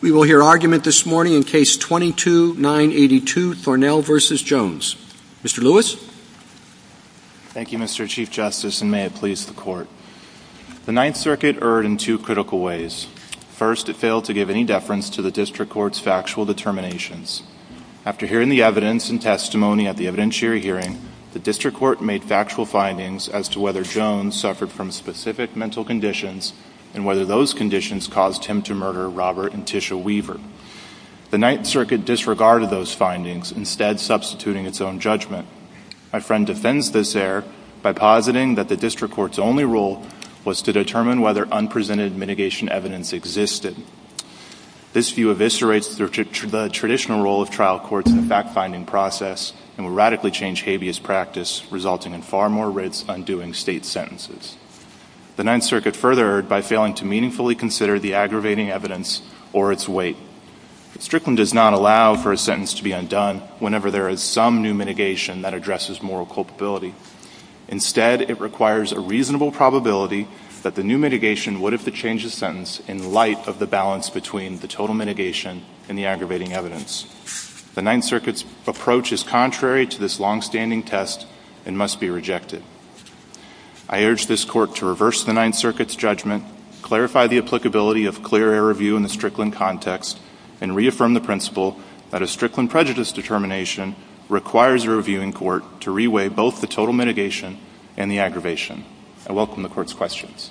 We will hear argument this morning in Case 22-982, Thornell v. Jones. Mr. Lewis. Thank you, Mr. Chief Justice, and may it please the Court. The Ninth Circuit erred in two critical ways. First, it failed to give any deference to the District Court's factual determinations. After hearing the evidence and testimony at the evidentiary hearing, the District Court made factual findings as to whether Jones suffered from specific mental conditions and whether those conditions caused him to murder Robert and Tisha Weaver. The Ninth Circuit disregarded those findings, instead substituting its own judgment. My friend defends this error by positing that the District Court's only role was to determine whether unprecedented mitigation evidence existed. This view eviscerates the traditional role of trial courts in the fact-finding process and would radically change habeas practice, resulting in far more writs undoing state sentences. The Ninth Circuit further erred by failing to meaningfully consider the aggravating evidence or its weight. Strickland does not allow for a sentence to be undone whenever there is some new mitigation that addresses moral culpability. Instead, it requires a reasonable probability that the new mitigation would have to change the sentence in light of the balance between the total mitigation and the aggravating evidence. The Ninth Circuit's approach is contrary to this long-standing test and must be rejected. I urge this Court to reverse the Ninth Circuit's judgment, clarify the applicability of clear error review in the Strickland context, and reaffirm the principle that a Strickland prejudice determination requires a reviewing court to reweigh both the total mitigation and the aggravation. I welcome the Court's questions.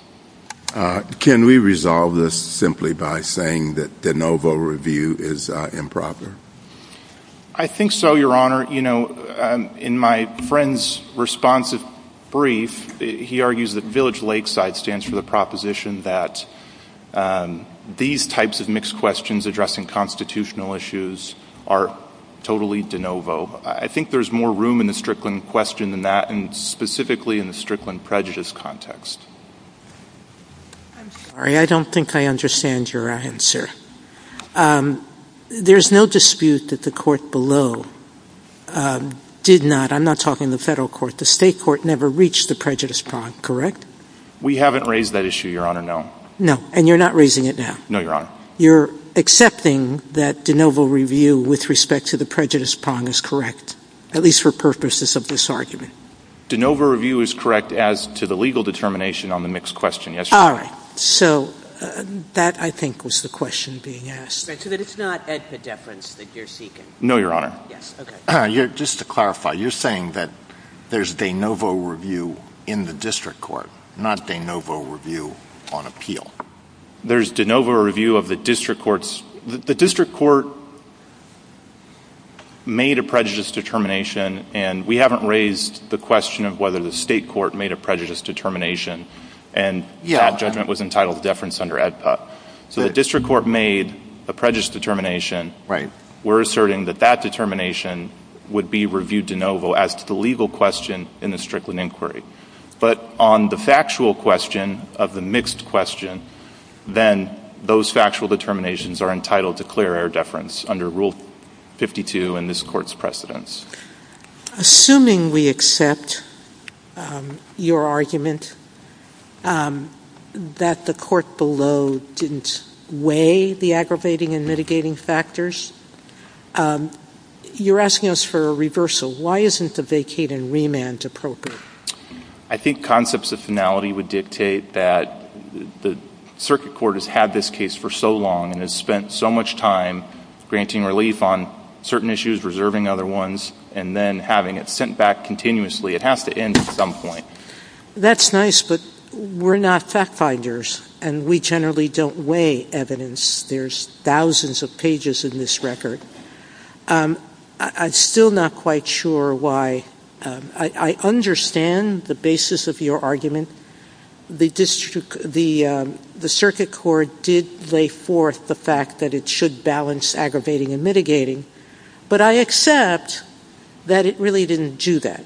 Can we resolve this simply by saying that de novo review is improper? I think so, Your Honor. Your Honor, you know, in my friend's responsive brief, he argues that Village Lakeside stands for the proposition that these types of mixed questions addressing constitutional issues are totally de novo. I think there's more room in the Strickland question than that, and specifically in the Strickland prejudice context. I'm sorry. I don't think I understand your answer. There's no dispute that the Court below did not, I'm not talking the Federal Court, the State Court never reached the prejudice prong, correct? We haven't raised that issue, Your Honor, no. No, and you're not raising it now? No, Your Honor. You're accepting that de novo review with respect to the prejudice prong is correct, at least for purposes of this argument? De novo review is correct as to the legal determination on the mixed question, yes, Your Honor. All right. So that, I think, was the question being asked. So that it's not epideference that you're seeking? No, Your Honor. Yes, okay. Just to clarify, you're saying that there's de novo review in the district court, not de novo review on appeal? There's de novo review of the district courts. The district court made a prejudice determination, and we haven't raised the question of whether the State court made a prejudice determination. And that judgment was entitled to deference under AEDPA. So the district court made a prejudice determination. Right. We're asserting that that determination would be reviewed de novo as to the legal question in the Strickland inquiry. But on the factual question of the mixed question, then those factual determinations are entitled to clear air deference under Rule 52 in this Court's precedence. Assuming we accept your argument that the court below didn't weigh the aggravating and mitigating factors, you're asking us for a reversal. Why isn't the vacate and remand appropriate? I think concepts of finality would dictate that the circuit court has had this case for so long and has spent so much time granting relief on certain issues, reserving other ones, and then having it sent back continuously. It has to end at some point. That's nice, but we're not fact finders, and we generally don't weigh evidence. There's thousands of pages in this record. I'm still not quite sure why. I understand the basis of your argument. The circuit court did lay forth the fact that it should balance aggravating and mitigating, but I accept that it really didn't do that.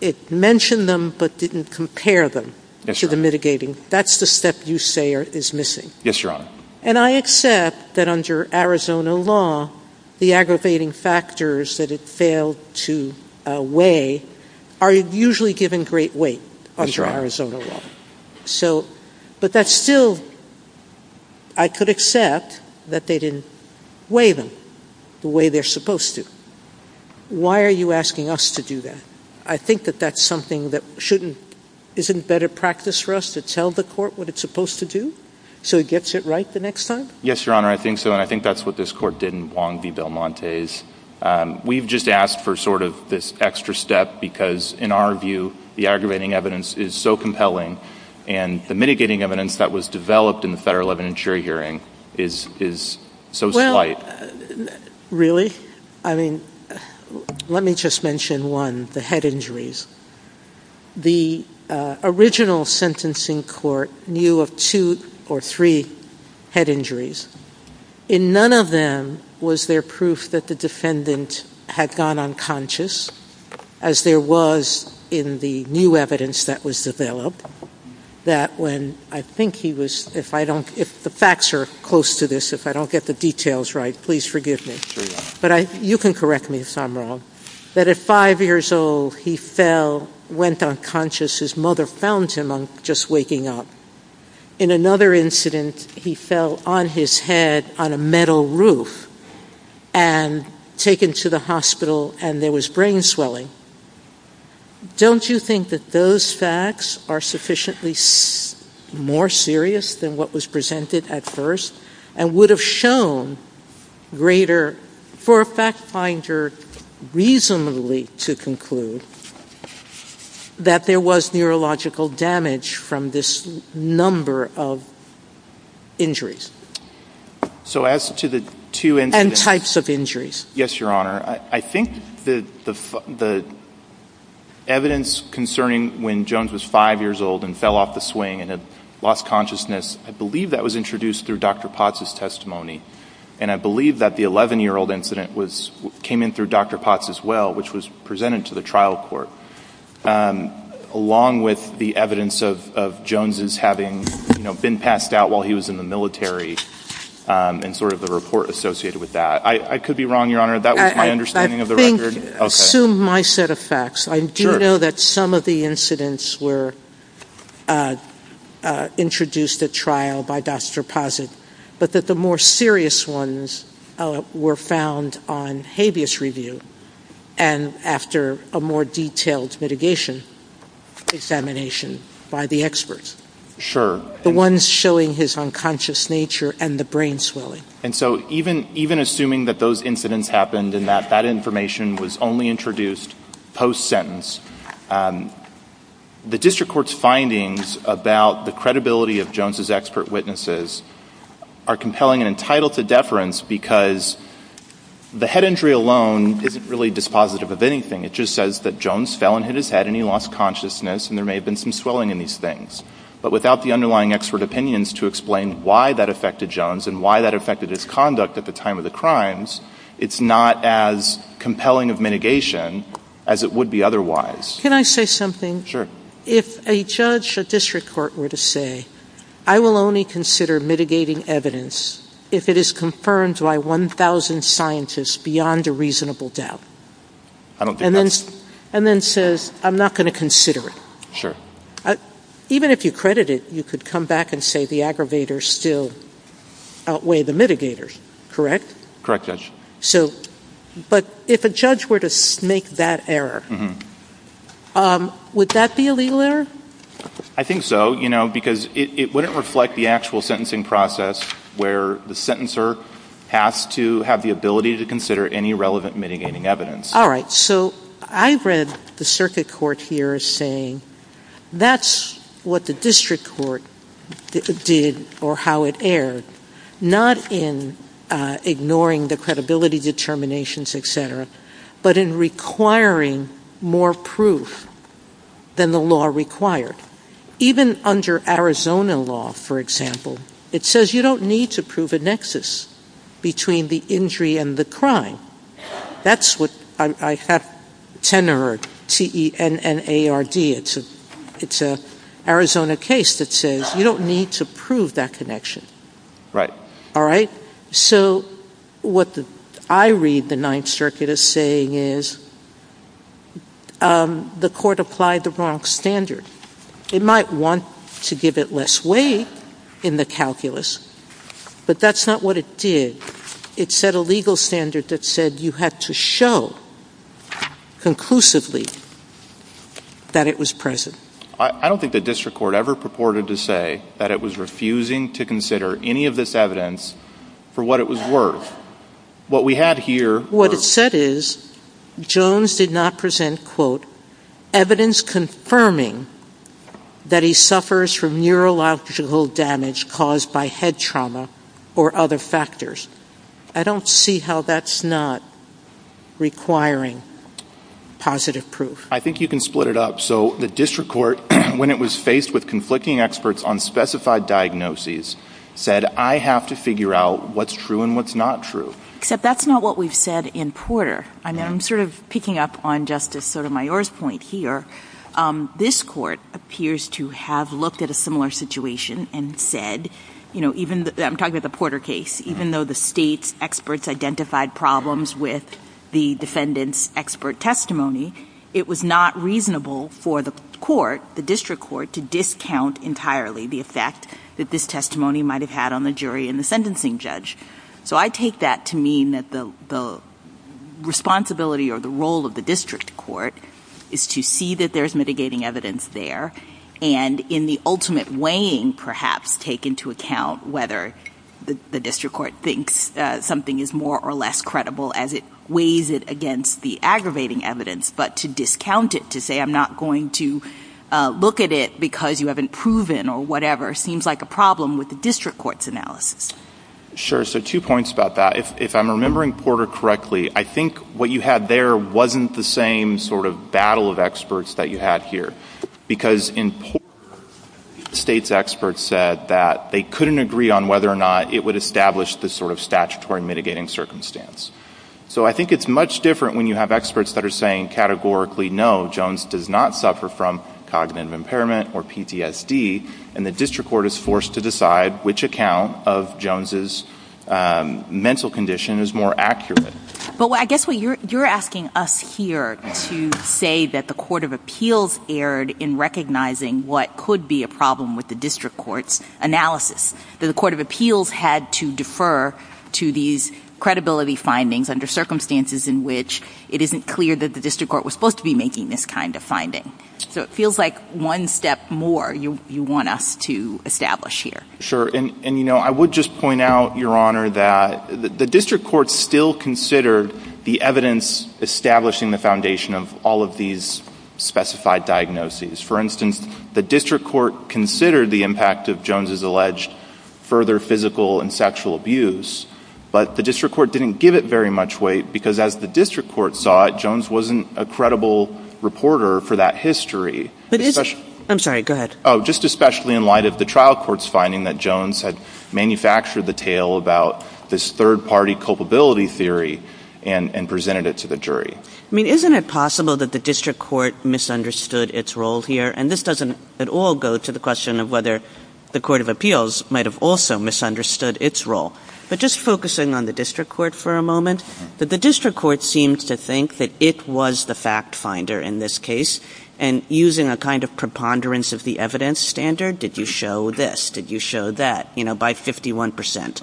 It mentioned them but didn't compare them to the mitigating. That's the step you say is missing. Yes, Your Honor. And I accept that under Arizona law, the aggravating factors that it failed to weigh are usually given great weight under Arizona law. But that's still, I could accept that they didn't weigh them the way they're supposed to. Why are you asking us to do that? I think that that's something that isn't better practice for us to tell the court what it's supposed to do so it gets it right the next time? Yes, Your Honor, I think so, and I think that's what this court did in Wong v. Belmonte's. We've just asked for sort of this extra step because, in our view, the aggravating evidence is so compelling and the mitigating evidence that was developed in the federal evidentiary hearing is so slight. Well, really? I mean, let me just mention one, the head injuries. The original sentencing court knew of two or three head injuries. In none of them was there proof that the defendant had gone unconscious, as there was in the new evidence that was developed, that when I think he was, if the facts are close to this, if I don't get the details right, please forgive me. But you can correct me if I'm wrong, that at 5 years old, he fell, went unconscious. His mother found him just waking up. In another incident, he fell on his head on a metal roof and taken to the hospital and there was brain swelling. Don't you think that those facts are sufficiently more serious than what was presented at first and would have shown greater, for a fact finder reasonably to conclude, that there was neurological damage from this number of injuries? And types of injuries. Yes, Your Honor. I think the evidence concerning when Jones was 5 years old and fell off the swing and had lost consciousness, I believe that was introduced through Dr. Potts' testimony. And I believe that the 11-year-old incident came in through Dr. Potts as well, which was presented to the trial court, along with the evidence of Jones' having been passed out while he was in the military and sort of the report associated with that. I could be wrong, Your Honor. That was my understanding of the record. I think, assume my set of facts. I do know that some of the incidents were introduced at trial by Dr. Potts, but that the more serious ones were found on habeas review and after a more detailed mitigation examination by the experts. Sure. The ones showing his unconscious nature and the brain swelling. And so even assuming that those incidents happened and that that information was only introduced post-sentence, the district court's findings about the credibility of Jones' expert witnesses are compelling and entitled to deference because the head injury alone isn't really dispositive of anything. It just says that Jones fell and hit his head and he lost consciousness and there may have been some swelling in these things. But without the underlying expert opinions to explain why that affected Jones and why that affected his conduct at the time of the crimes, it's not as compelling of mitigation as it would be otherwise. Can I say something? Sure. If a judge or district court were to say, I will only consider mitigating evidence if it is confirmed by 1,000 scientists beyond a reasonable doubt. I don't think that's... And then says, I'm not going to consider it. Sure. Even if you credit it, you could come back and say the aggravators still outweigh the mitigators, correct? Correct, Judge. But if a judge were to make that error, would that be a legal error? I think so because it wouldn't reflect the actual sentencing process where the sentencer has to have the ability to consider any relevant mitigating evidence. All right. So I read the circuit court here as saying that's what the district court did or how it erred, not in ignoring the credibility determinations, et cetera, but in requiring more proof than the law required. Even under Arizona law, for example, it says you don't need to prove a nexus between the injury and the crime. That's what I have tenor T-E-N-N-A-R-D. It's an Arizona case that says you don't need to prove that connection. Right. All right. So what I read the Ninth Circuit as saying is the court applied the wrong standard. It might want to give it less weight in the calculus, but that's not what it did. It set a legal standard that said you had to show conclusively that it was present. I don't think the district court ever purported to say that it was refusing to consider any of this evidence for what it was worth. What we had here... What it said is Jones did not present, quote, evidence confirming that he suffers from neurological damage caused by head trauma or other factors. I don't see how that's not requiring positive proof. I think you can split it up. So the district court, when it was faced with conflicting experts on specified diagnoses, said I have to figure out what's true and what's not true. Except that's not what we've said in Porter. I'm sort of picking up on Justice Sotomayor's point here. This court appears to have looked at a similar situation and said, I'm talking about the Porter case, even though the state's experts identified problems with the defendant's expert testimony, it was not reasonable for the court, the district court, to discount entirely the effect that this testimony might have had on the jury and the sentencing judge. So I take that to mean that the responsibility or the role of the district court is to see that there's mitigating evidence there and in the ultimate weighing, perhaps, take into account whether the district court thinks something is more or less credible as it weighs it against the aggravating evidence. But to discount it, to say I'm not going to look at it because you haven't proven or whatever, seems like a problem with the district court's analysis. Sure. So two points about that. If I'm remembering Porter correctly, I think what you had there wasn't the same sort of battle of experts that you had here because in Porter, the state's experts said that they couldn't agree on whether or not it would establish this sort of statutory mitigating circumstance. So I think it's much different when you have experts that are saying categorically, no, Jones does not suffer from cognitive impairment or PTSD, and the district court is forced to decide which account of Jones' mental condition is more accurate. But I guess what you're asking us here to say that the court of appeals erred in recognizing what could be a problem with the district court's analysis, that the court of appeals had to defer to these credibility findings under circumstances in which it isn't clear that the district court was supposed to be making this kind of finding. So it feels like one step more you want us to establish here. Sure. And, you know, I would just point out, Your Honor, that the district court still considered the evidence establishing the foundation of all of these specified diagnoses. For instance, the district court considered the impact of Jones' alleged further physical and sexual abuse, but the district court didn't give it very much weight because as the district court saw it, Jones wasn't a credible reporter for that history. I'm sorry. Go ahead. Just especially in light of the trial court's finding that Jones had manufactured the tale about this third-party culpability theory and presented it to the jury. I mean, isn't it possible that the district court misunderstood its role here? And this doesn't at all go to the question of whether the court of appeals might have also misunderstood its role. But just focusing on the district court for a moment, that the district court seems to think that it was the fact finder in this case. And using a kind of preponderance of the evidence standard, did you show this? Did you show that, you know, by 51 percent?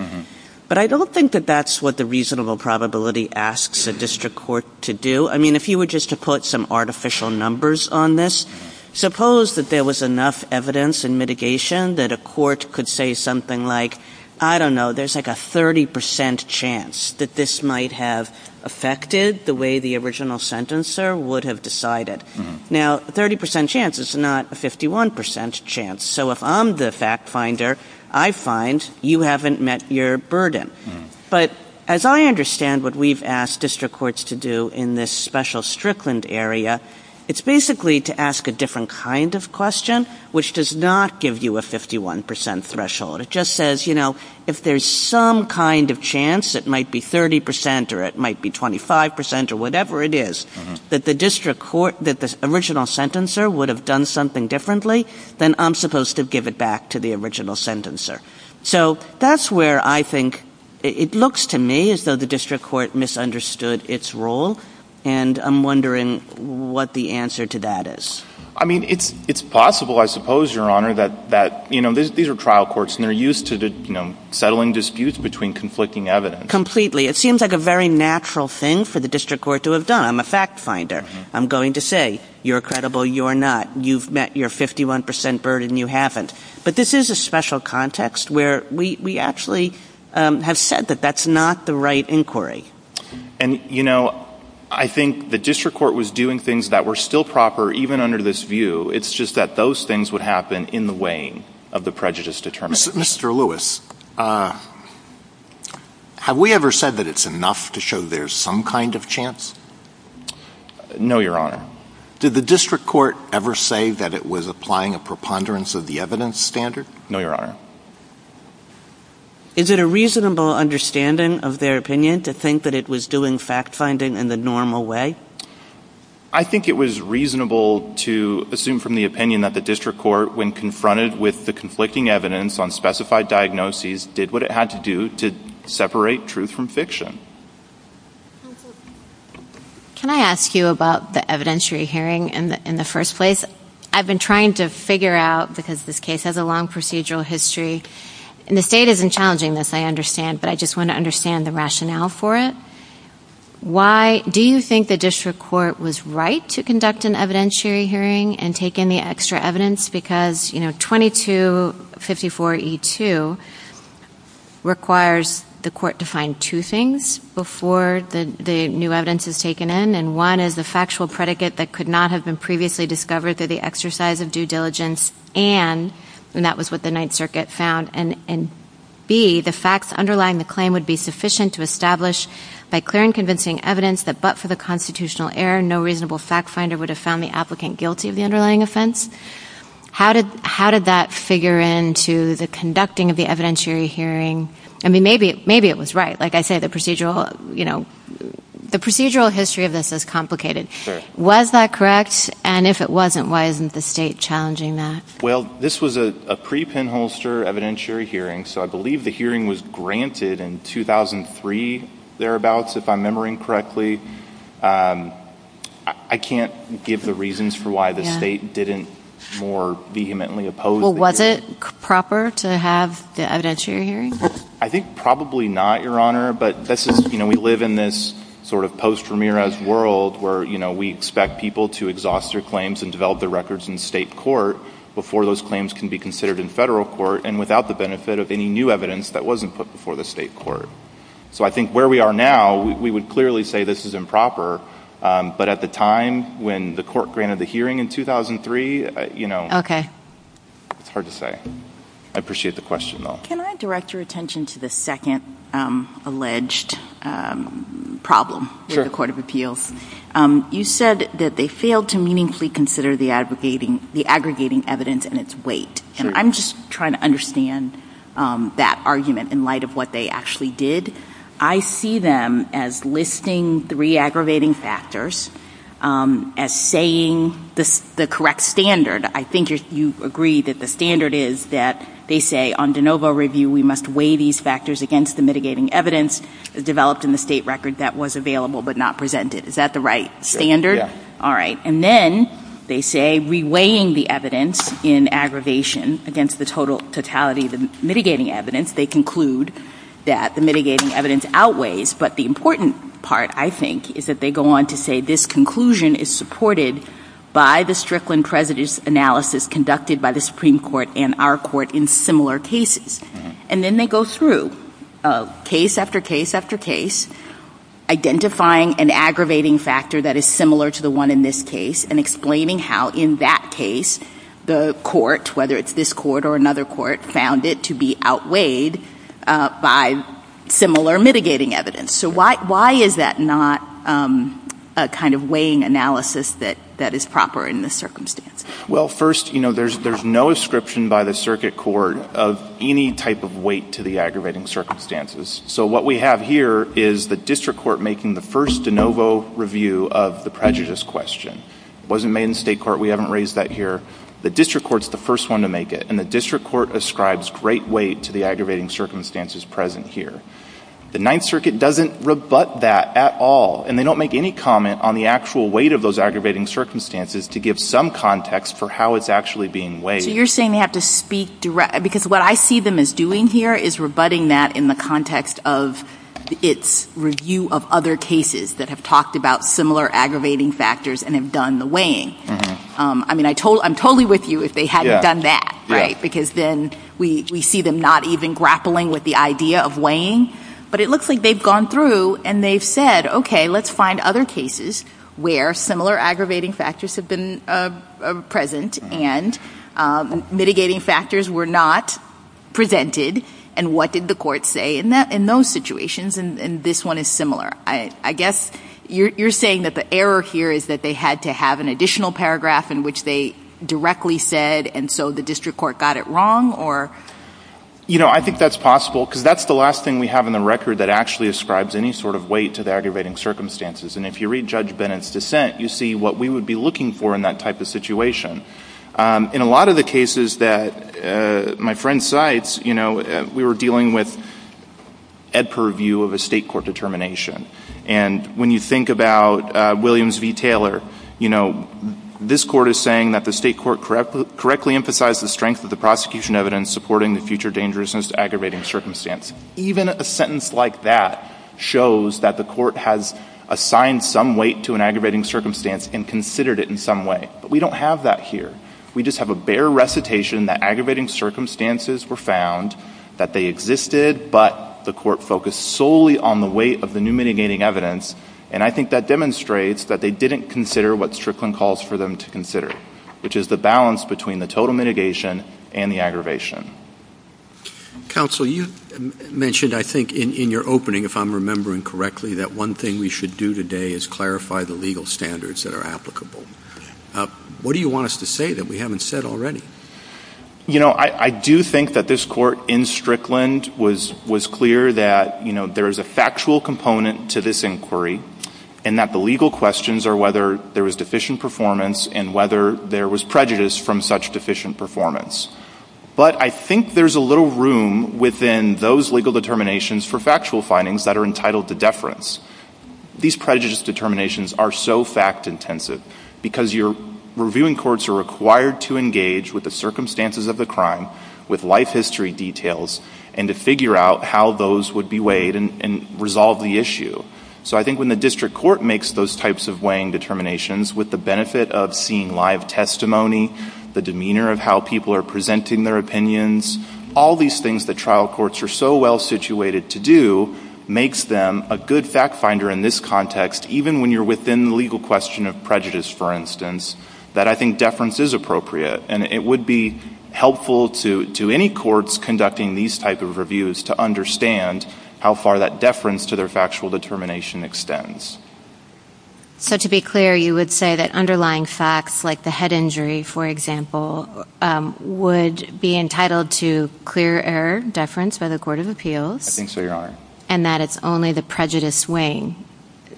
But I don't think that that's what the reasonable probability asks a district court to do. I mean, if you were just to put some artificial numbers on this, suppose that there was enough evidence and mitigation that a court could say something like, I don't know, there's like a 30 percent chance that this might have affected the way the original sentencer would have decided. Now, a 30 percent chance is not a 51 percent chance. So if I'm the fact finder, I find you haven't met your burden. But as I understand what we've asked district courts to do in this special Strickland area, it's basically to ask a different kind of question, which does not give you a 51 percent threshold. It just says, you know, if there's some kind of chance, it might be 30 percent or it might be 25 percent or whatever it is, that the district court, that the original sentencer would have done something differently, then I'm supposed to give it back to the original sentencer. So that's where I think it looks to me as though the district court misunderstood its role, and I'm wondering what the answer to that is. I mean, it's possible, I suppose, Your Honor, that, you know, these are trial courts, and they're used to settling disputes between conflicting evidence. Completely. It seems like a very natural thing for the district court to have done. I'm a fact finder. I'm going to say you're credible, you're not. You've met your 51 percent burden, you haven't. But this is a special context where we actually have said that that's not the right inquiry. And, you know, I think the district court was doing things that were still proper even under this view. It's just that those things would happen in the weighing of the prejudice determinants. Mr. Lewis, have we ever said that it's enough to show there's some kind of chance? No, Your Honor. Did the district court ever say that it was applying a preponderance of the evidence standard? No, Your Honor. Is it a reasonable understanding of their opinion to think that it was doing fact finding in the normal way? I think it was reasonable to assume from the opinion that the district court, when confronted with the conflicting evidence on specified diagnoses, did what it had to do to separate truth from fiction. Counsel, can I ask you about the evidentiary hearing in the first place? I've been trying to figure out, because this case has a long procedural history, and the state isn't challenging this, I understand, but I just want to understand the rationale for it. Do you think the district court was right to conduct an evidentiary hearing and take in the extra evidence? Because 2254E2 requires the court to find two things before the new evidence is taken in, and one is the factual predicate that could not have been previously discovered through the exercise of due diligence, and that was what the Ninth Circuit found, and B, the facts underlying the claim would be sufficient to establish by clear and convincing evidence that but for the constitutional error, no reasonable fact finder would have found the applicant guilty of the underlying offense. How did that figure into the conducting of the evidentiary hearing? I mean, maybe it was right. Like I say, the procedural history of this is complicated. Was that correct? And if it wasn't, why isn't the state challenging that? Well, this was a pre-pinholster evidentiary hearing, so I believe the hearing was granted in 2003 thereabouts, if I'm remembering correctly. I can't give the reasons for why the state didn't more vehemently oppose the hearing. Well, was it proper to have the evidentiary hearing? I think probably not, Your Honor, but we live in this sort of post-Ramirez world where we expect people to exhaust their claims and develop their records in state court before those claims can be considered in federal court and without the benefit of any new evidence that wasn't put before the state court. So I think where we are now, we would clearly say this is improper, but at the time when the court granted the hearing in 2003, you know, it's hard to say. I appreciate the question, though. Can I direct your attention to the second alleged problem with the court of appeals? You said that they failed to meaningfully consider the aggregating evidence and its weight, and I'm just trying to understand that argument in light of what they actually did. I see them as listing three aggravating factors, as saying the correct standard. I think you agree that the standard is that they say on de novo review we must weigh these factors against the mitigating evidence developed in the state record that was available but not presented. Is that the right standard? Yes. All right. And then they say reweighing the evidence in aggravation against the totality of the mitigating evidence, they conclude that the mitigating evidence outweighs, but the important part, I think, is that they go on to say this conclusion is supported by the Strickland prejudice analysis conducted by the Supreme Court and our court in similar cases. And then they go through case after case after case, identifying an aggravating factor that is similar to the one in this case and explaining how in that case the court, whether it's this court or another court, found it to be outweighed by similar mitigating evidence. So why is that not a kind of weighing analysis that is proper in this circumstance? Well, first, you know, there's no ascription by the circuit court of any type of weight to the aggravating circumstances. So what we have here is the district court making the first de novo review of the prejudice question. It wasn't made in state court. We haven't raised that here. The district court's the first one to make it, and the district court ascribes great weight to the aggravating circumstances present here. The Ninth Circuit doesn't rebut that at all, and they don't make any comment on the actual weight of those aggravating circumstances to give some context for how it's actually being weighed. So you're saying they have to speak direct? Because what I see them as doing here is rebutting that in the context of its review of other cases that have talked about similar aggravating factors and have done the weighing. I mean, I'm totally with you if they hadn't done that, right? But it looks like they've gone through and they've said, okay, let's find other cases where similar aggravating factors have been present and mitigating factors were not presented, and what did the court say in those situations? And this one is similar. I guess you're saying that the error here is that they had to have an additional paragraph in which they directly said, and so the district court got it wrong? You know, I think that's possible because that's the last thing we have in the record that actually ascribes any sort of weight to the aggravating circumstances. And if you read Judge Bennett's dissent, you see what we would be looking for in that type of situation. In a lot of the cases that my friend cites, you know, we were dealing with ed per view of a state court determination. And when you think about Williams v. Taylor, you know, this court is saying that the state court correctly emphasized the strength of the prosecution evidence supporting the future dangerousness to aggravating circumstance. Even a sentence like that shows that the court has assigned some weight to an aggravating circumstance and considered it in some way, but we don't have that here. We just have a bare recitation that aggravating circumstances were found, that they existed, but the court focused solely on the weight of the new mitigating evidence, and I think that demonstrates that they didn't consider what Strickland calls for them to consider, which is the balance between the total mitigation and the aggravation. Counsel, you mentioned, I think, in your opening, if I'm remembering correctly, that one thing we should do today is clarify the legal standards that are applicable. What do you want us to say that we haven't said already? You know, I do think that this court in Strickland was clear that, you know, there is a factual component to this inquiry and that the legal questions are whether there was deficient performance and whether there was prejudice from such deficient performance. But I think there's a little room within those legal determinations for factual findings that are entitled to deference. These prejudice determinations are so fact-intensive because your reviewing courts are required to engage with the circumstances of the crime, with life history details, and to figure out how those would be weighed and resolve the issue. So I think when the district court makes those types of weighing determinations with the benefit of seeing live testimony, the demeanor of how people are presenting their opinions, all these things that trial courts are so well-situated to do makes them a good fact-finder in this context, even when you're within the legal question of prejudice, for instance, that I think deference is appropriate. And it would be helpful to any courts conducting these types of reviews to understand how far that deference to their factual determination extends. So to be clear, you would say that underlying facts like the head injury, for example, would be entitled to clear error deference by the Court of Appeals? I think so, Your Honor. And that it's only the prejudice weighing,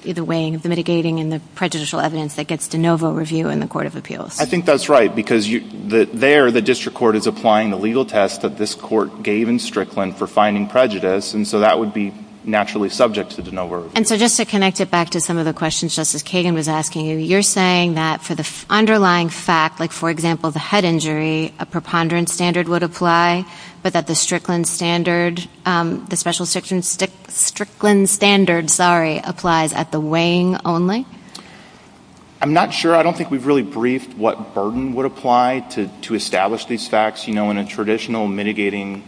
the weighing of the mitigating and the prejudicial evidence that gets de novo review in the Court of Appeals? I think that's right, because there the district court is applying the legal test that this court gave in Strickland for finding prejudice, and so that would be naturally subject to de novo review. And so just to connect it back to some of the questions Justice Kagan was asking you, you're saying that for the underlying fact, like, for example, the head injury, a preponderance standard would apply, but that the Strickland standard, the special Strickland standard, sorry, applies at the weighing only? I'm not sure. I don't think we've really briefed what burden would apply to establish these facts. You know, in a traditional mitigating,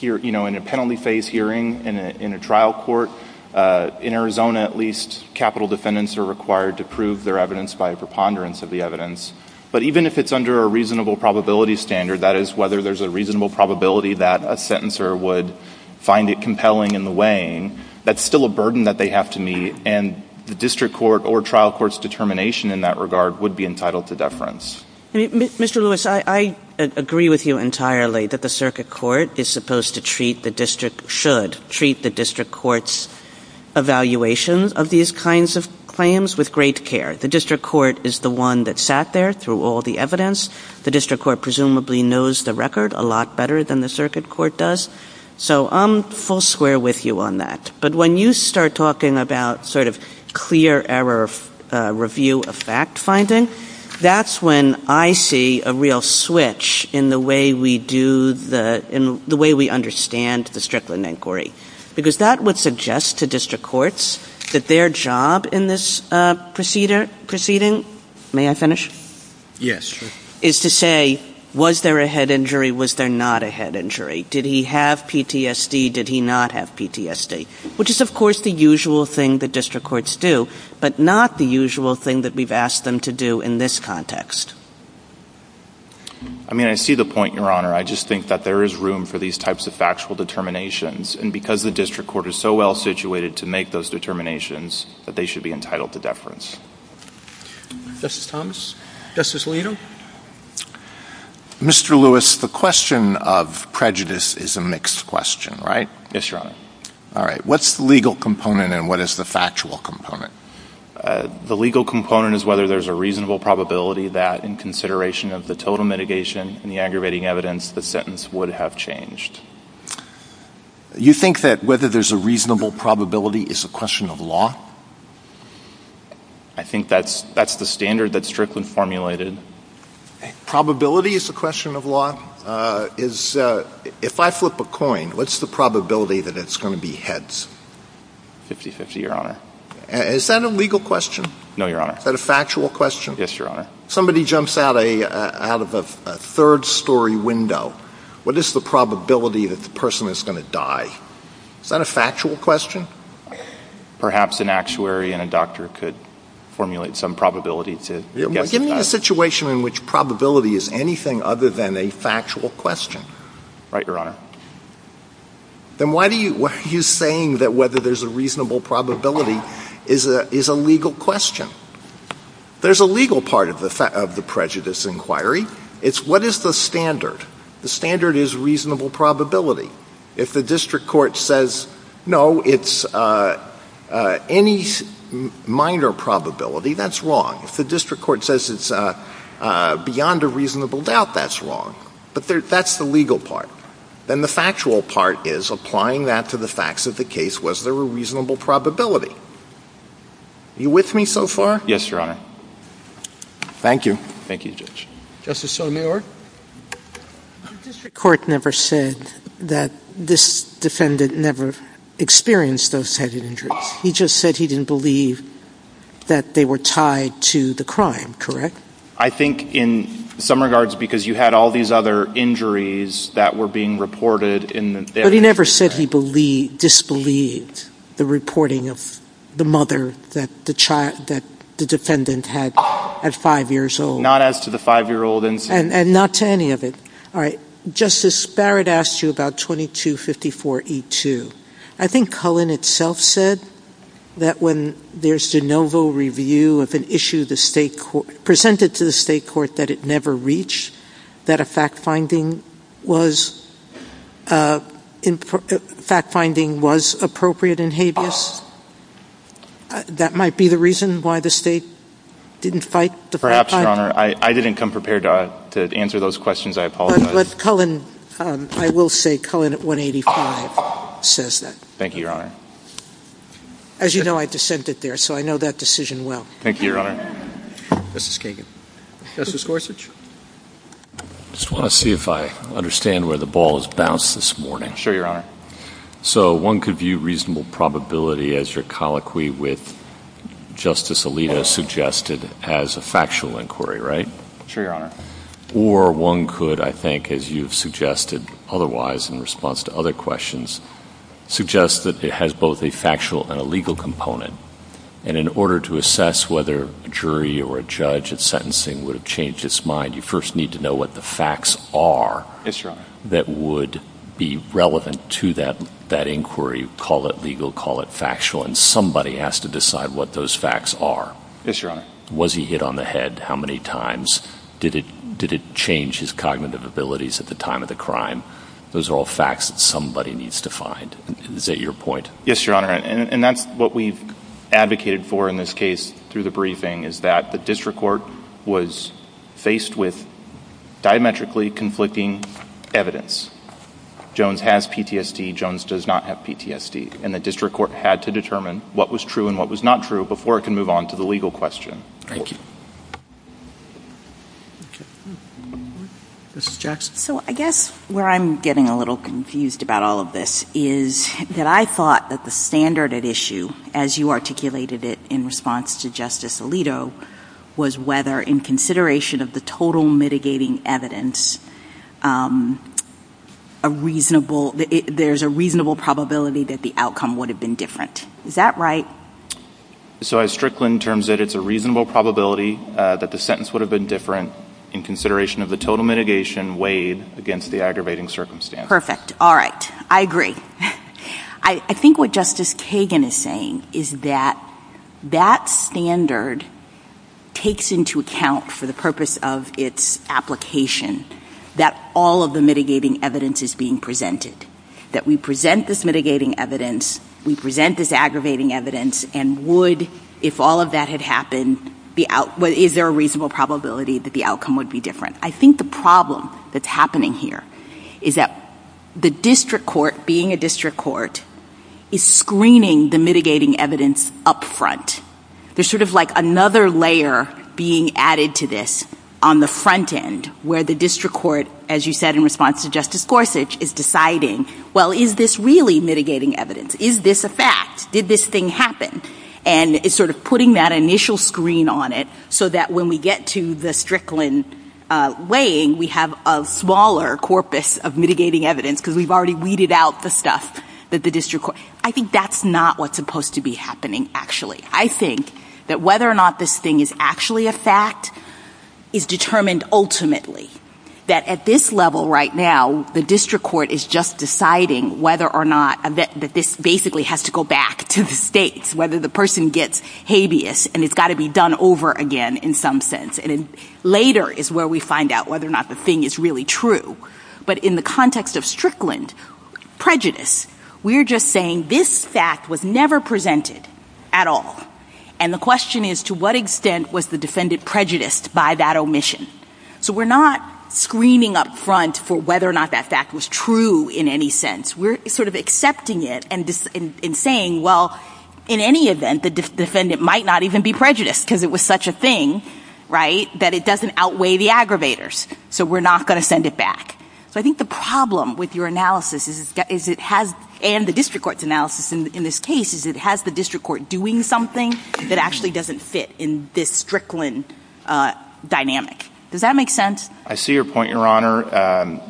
you know, in a penalty phase hearing in a trial court, in Arizona at least capital defendants are required to prove their evidence by a preponderance of the evidence. But even if it's under a reasonable probability standard, that is whether there's a reasonable probability that a sentencer would find it compelling in the weighing, that's still a burden that they have to meet, and the district court or trial court's determination in that regard would be entitled to deference. Mr. Lewis, I agree with you entirely that the circuit court is supposed to treat the district, should treat the district court's evaluations of these kinds of claims with great care. The district court is the one that sat there through all the evidence. The district court presumably knows the record a lot better than the circuit court does. So I'm full square with you on that. But when you start talking about sort of clear error review of fact finding, that's when I see a real switch in the way we do the, in the way we understand the Strickland inquiry. Because that would suggest to district courts that their job in this proceeding, may I finish? Yes, sure. Is to say, was there a head injury, was there not a head injury? Did he have PTSD? Did he not have PTSD? Which is, of course, the usual thing that district courts do, but not the usual thing that we've asked them to do in this context. I mean, I see the point, Your Honor. I just think that there is room for these types of factual determinations. And because the district court is so well situated to make those determinations, that they should be entitled to deference. Justice Thomas? Justice Alito? Mr. Lewis, the question of prejudice is a mixed question, right? Yes, Your Honor. All right. What's the legal component and what is the factual component? The legal component is whether there's a reasonable probability that, in consideration of the total mitigation and the aggravating evidence, the sentence would have changed. You think that whether there's a reasonable probability is a question of law? I think that's the standard that Strickland formulated. Probability is a question of law? If I flip a coin, what's the probability that it's going to be heads? 50-50, Your Honor. Is that a legal question? No, Your Honor. Is that a factual question? Yes, Your Honor. Somebody jumps out of a third-story window, what is the probability that the person is going to die? Is that a factual question? Perhaps an actuary and a doctor could formulate some probability to guess that. Give me a situation in which probability is anything other than a factual question. Right, Your Honor. Then why are you saying that whether there's a reasonable probability is a legal question? There's a legal part of the prejudice inquiry. It's what is the standard? The standard is reasonable probability. If the district court says, no, it's any minor probability, that's wrong. If the district court says it's beyond a reasonable doubt, that's wrong. But that's the legal part. Then the factual part is applying that to the facts of the case. Was there a reasonable probability? Are you with me so far? Yes, Your Honor. Thank you. Thank you, Judge. Justice Sotomayor? The district court never said that this defendant never experienced those head injuries. He just said he didn't believe that they were tied to the crime, correct? I think in some regards because you had all these other injuries that were being reported. But he never said he disbelieved the reporting of the mother that the defendant had at five years old. Not as to the five-year-old incident. And not to any of it. All right. Justice Barrett asked you about 2254E2. I think Cullen itself said that when there's de novo review of an issue presented to the state court that it never reached, that a fact-finding was appropriate in habeas. That might be the reason why the state didn't fight the fact-finding. Your Honor, I didn't come prepared to answer those questions. I apologize. But Cullen, I will say Cullen at 185 says that. Thank you, Your Honor. As you know, I dissented there, so I know that decision well. Thank you, Your Honor. Justice Kagan? Justice Gorsuch? I just want to see if I understand where the ball has bounced this morning. Sure, Your Honor. So one could view reasonable probability as your colloquy with Justice Alito suggested as a factual inquiry, right? Sure, Your Honor. Or one could, I think, as you've suggested otherwise in response to other questions, suggest that it has both a factual and a legal component. And in order to assess whether a jury or a judge at sentencing would have changed its mind, you first need to know what the facts are that would be relevant to that inquiry. Call it legal. Call it factual. And somebody has to decide what those facts are. Yes, Your Honor. Was he hit on the head how many times? Did it change his cognitive abilities at the time of the crime? Those are all facts that somebody needs to find. Is that your point? Yes, Your Honor. And that's what we've advocated for in this case through the briefing, is that the district court was faced with diametrically conflicting evidence. Jones has PTSD. Jones does not have PTSD. And the district court had to determine what was true and what was not true before it can move on to the legal question. Thank you. Mrs. Jackson? So I guess where I'm getting a little confused about all of this is that I thought that the standard at issue, as you articulated it in response to Justice Alito, was whether in consideration of the total mitigating evidence, there's a reasonable probability that the outcome would have been different. Is that right? So as Strickland terms it, it's a reasonable probability that the sentence would have been different in consideration of the total mitigation weighed against the aggravating circumstances. Perfect. All right. I agree. I think what Justice Kagan is saying is that that standard takes into account for the purpose of its application that all of the mitigating evidence is being presented, that we present this mitigating evidence, we present this aggravating evidence, and would, if all of that had happened, is there a reasonable probability that the outcome would be different? I think the problem that's happening here is that the district court, being a district court, is screening the mitigating evidence up front. There's sort of like another layer being added to this on the front end where the district court, as you said in response to Justice Gorsuch, is deciding, well, is this really mitigating evidence? Is this a fact? Did this thing happen? And it's sort of putting that initial screen on it so that when we get to the Strickland weighing, we have a smaller corpus of mitigating evidence because we've already weeded out the stuff that the district court. I think that's not what's supposed to be happening, actually. I think that whether or not this thing is actually a fact is determined ultimately, that at this level right now, the district court is just deciding whether or not this basically has to go back to the states, whether the person gets habeas and it's got to be done over again in some sense. And later is where we find out whether or not the thing is really true. But in the context of Strickland prejudice, we're just saying this fact was never presented at all. And the question is, to what extent was the defendant prejudiced by that omission? So we're not screening up front for whether or not that fact was true in any sense. We're sort of accepting it and saying, well, in any event, the defendant might not even be prejudiced because it was such a thing, right, that it doesn't outweigh the aggravators. So we're not going to send it back. So I think the problem with your analysis is it has, and the district court's analysis in this case, is it has the district court doing something that actually doesn't fit in this Strickland dynamic. Does that make sense? I see your point, Your Honor.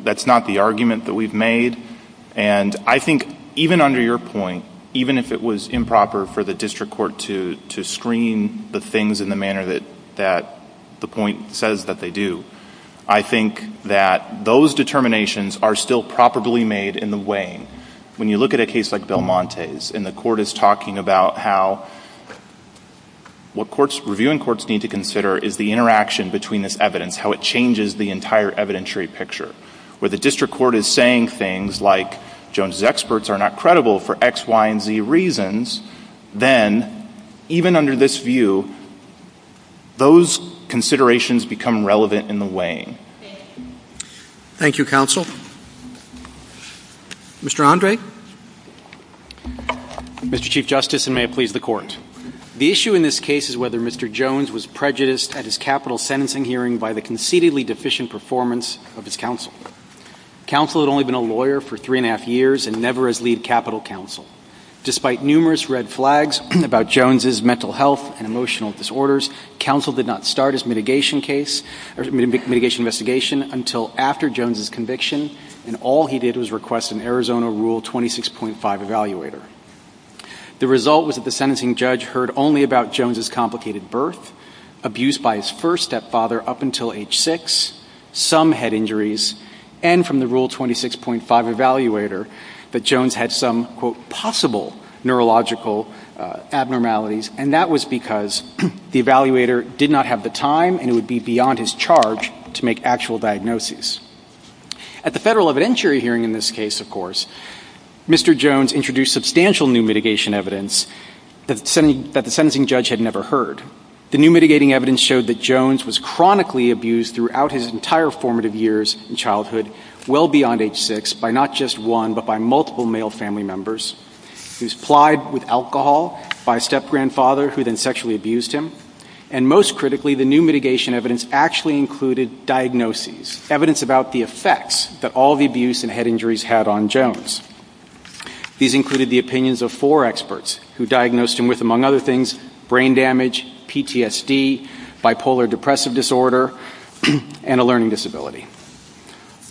That's not the argument that we've made. And I think even under your point, even if it was improper for the district court to screen the things in the manner that the point says that they do, I think that those determinations are still properly made in the weighing. When you look at a case like Belmonte's and the court is talking about how what reviewing courts need to consider is the interaction between this evidence, how it changes the entire evidentiary picture, where the district court is saying things like Jones's experts are not credible for X, Y, and Z reasons, then even under this view, those considerations become relevant in the weighing. Thank you. Thank you, counsel. Mr. Andre. Mr. Chief Justice, and may it please the Court. The issue in this case is whether Mr. Jones was prejudiced at his capital sentencing hearing by the conceitedly deficient performance of his counsel. Counsel had only been a lawyer for three and a half years and never as lead capital counsel. Despite numerous red flags about Jones's mental health and emotional disorders, counsel did not start his mitigation investigation until after Jones's conviction, and all he did was request an Arizona Rule 26.5 evaluator. The result was that the sentencing judge heard only about Jones's complicated birth, abuse by his first stepfather up until age six, some head injuries, and from the Rule 26.5 evaluator that Jones had some, quote, possible neurological abnormalities, and that was because the evaluator did not have the time and it would be beyond his charge to make actual diagnoses. At the federal evidentiary hearing in this case, of course, Mr. Jones introduced substantial new mitigation evidence that the sentencing judge had never heard. The new mitigating evidence showed that Jones was chronically abused throughout his entire formative years in childhood, well beyond age six, by not just one but by multiple male family members. He was plied with alcohol by a step-grandfather who then sexually abused him, and most critically, the new mitigation evidence actually included diagnoses, evidence about the effects that all the abuse and head injuries had on Jones. These included the opinions of four experts who diagnosed him with, among other things, brain damage, PTSD, bipolar depressive disorder, and a learning disability.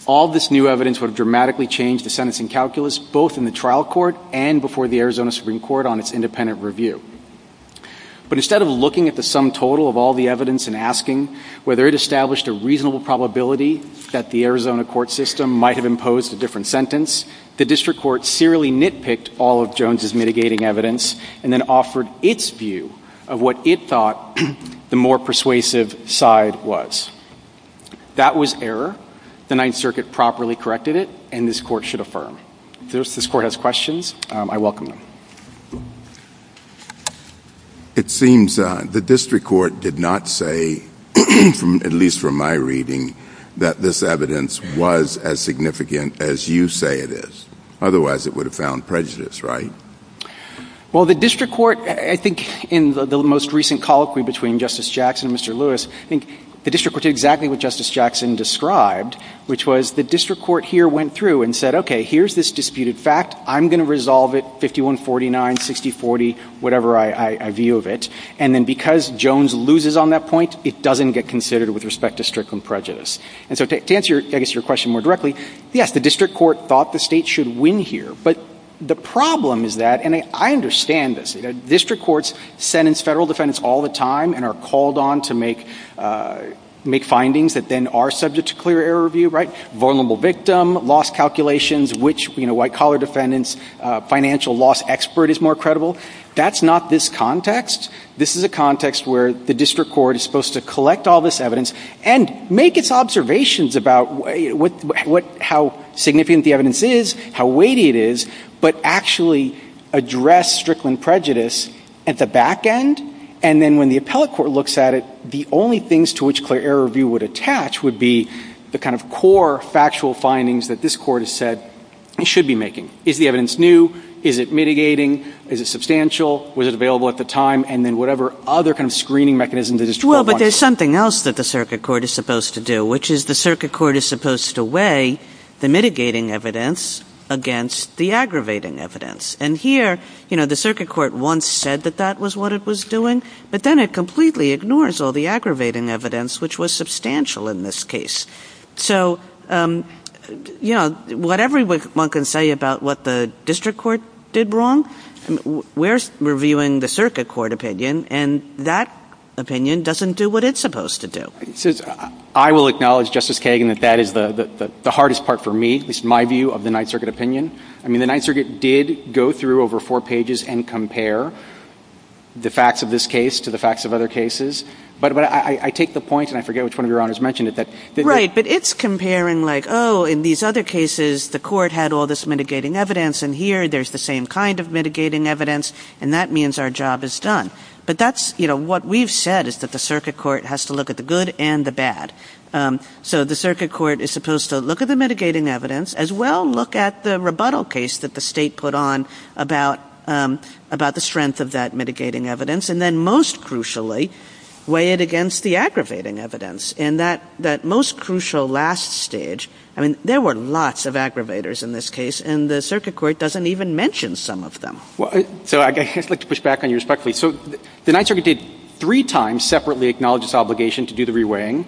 All this new evidence would have dramatically changed the sentencing calculus both in the trial court and before the Arizona Supreme Court on its independent review. But instead of looking at the sum total of all the evidence and asking whether it established a reasonable probability that the Arizona court system might have imposed a different sentence, the district court serially nitpicked all of Jones' mitigating evidence and then offered its view of what it thought the more persuasive side was. That was error. The Ninth Circuit properly corrected it, and this court should affirm. If this court has questions, I welcome them. It seems the district court did not say, at least from my reading, that this evidence was as significant as you say it is. Otherwise, it would have found prejudice, right? Well, the district court, I think in the most recent colloquy between Justice Jackson and Mr. Lewis, I think the district court did exactly what Justice Jackson described, which was the district court here went through and said, okay, here's this disputed fact. I'm going to resolve it 51-49, 60-40, whatever I view of it. And then because Jones loses on that point, it doesn't get considered with respect to strickling prejudice. And so to answer, I guess, your question more directly, yes, the district court thought the state should win here. But the problem is that, and I understand this, district courts sentence federal defendants all the time and are called on to make findings that then are subject to clear error review, right? Vulnerable victim, loss calculations, which, you know, white-collar defendants, financial loss expert is more credible. That's not this context. This is a context where the district court is supposed to collect all this evidence and make its observations about how significant the evidence is, how weighty it is, but actually address strickling prejudice at the back end. And then when the appellate court looks at it, the only things to which clear error review would attach would be the kind of core factual findings that this court has said it should be making. Is the evidence new? Is it mitigating? Is it substantial? Was it available at the time? And then whatever other kind of screening mechanisms the district court wants. There's something else that the circuit court is supposed to do, which is the circuit court is supposed to weigh the mitigating evidence against the aggravating evidence. And here, you know, the circuit court once said that that was what it was doing, but then it completely ignores all the aggravating evidence, which was substantial in this case. So, you know, whatever one can say about what the district court did wrong, we're reviewing the circuit court opinion, and that opinion doesn't do what it's supposed to do. I will acknowledge, Justice Kagan, that that is the hardest part for me, at least my view of the Ninth Circuit opinion. I mean, the Ninth Circuit did go through over four pages and compare the facts of this case to the facts of other cases. But I take the point, and I forget which one of your honors mentioned it. Right, but it's comparing like, oh, in these other cases, the court had all this mitigating evidence, and here there's the same kind of mitigating evidence, and that means our job is done. But that's, you know, what we've said is that the circuit court has to look at the good and the bad. So the circuit court is supposed to look at the mitigating evidence, as well look at the rebuttal case that the state put on about the strength of that mitigating evidence, and then most crucially weigh it against the aggravating evidence. And that most crucial last stage, I mean, there were lots of aggravators in this case, and the circuit court doesn't even mention some of them. Well, so I'd like to push back on you respectfully. So the Ninth Circuit did three times separately acknowledge its obligation to do the reweighing.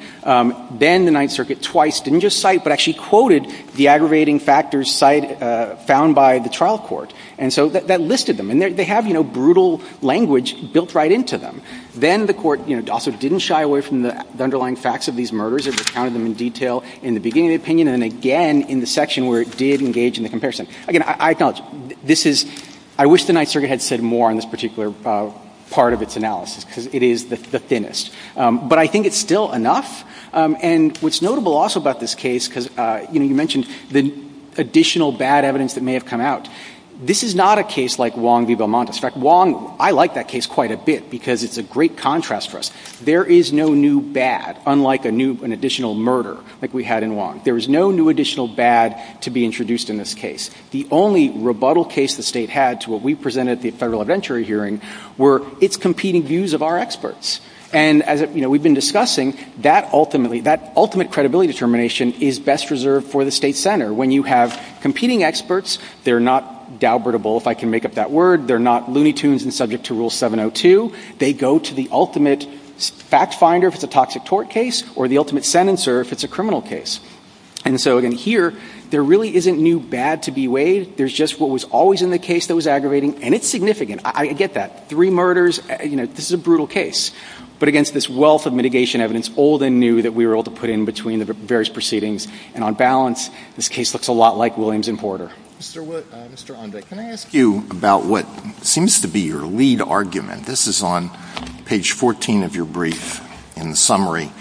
Then the Ninth Circuit twice didn't just cite but actually quoted the aggravating factors found by the trial court. And so that listed them. And they have, you know, brutal language built right into them. Then the court, you know, also didn't shy away from the underlying facts of these murders. It recounted them in detail in the beginning of the opinion, and then again in the section where it did engage in the comparison. Again, I acknowledge, this is — I wish the Ninth Circuit had said more on this particular part of its analysis, because it is the thinnest. But I think it's still enough. And what's notable also about this case, because, you know, you mentioned the additional bad evidence that may have come out. This is not a case like Wong v. Belmontis. In fact, Wong — I like that case quite a bit, because it's a great contrast for us. There is no new bad, unlike a new — an additional murder like we had in Wong. There is no new additional bad to be introduced in this case. The only rebuttal case the state had to what we presented at the federal evidentiary hearing were its competing views of our experts. And as, you know, we've been discussing, that ultimately — that ultimate credibility determination is best reserved for the state center. When you have competing experts, they're not doubtable, if I can make up that word. They're not loony tunes and subject to Rule 702. They go to the ultimate fact finder if it's a toxic tort case, or the ultimate sentencer if it's a criminal case. And so, again, here, there really isn't new bad to be weighed. There's just what was always in the case that was aggravating. And it's significant. I get that. Three murders. You know, this is a brutal case. But against this wealth of mitigation evidence, old and new, that we were able to put in between the various proceedings, and on balance, this case looks a lot like Williams v. Porter. Mr. Wood — Mr. Onda, can I ask you about what seems to be your lead argument? This is on page 14 of your brief, in the summary.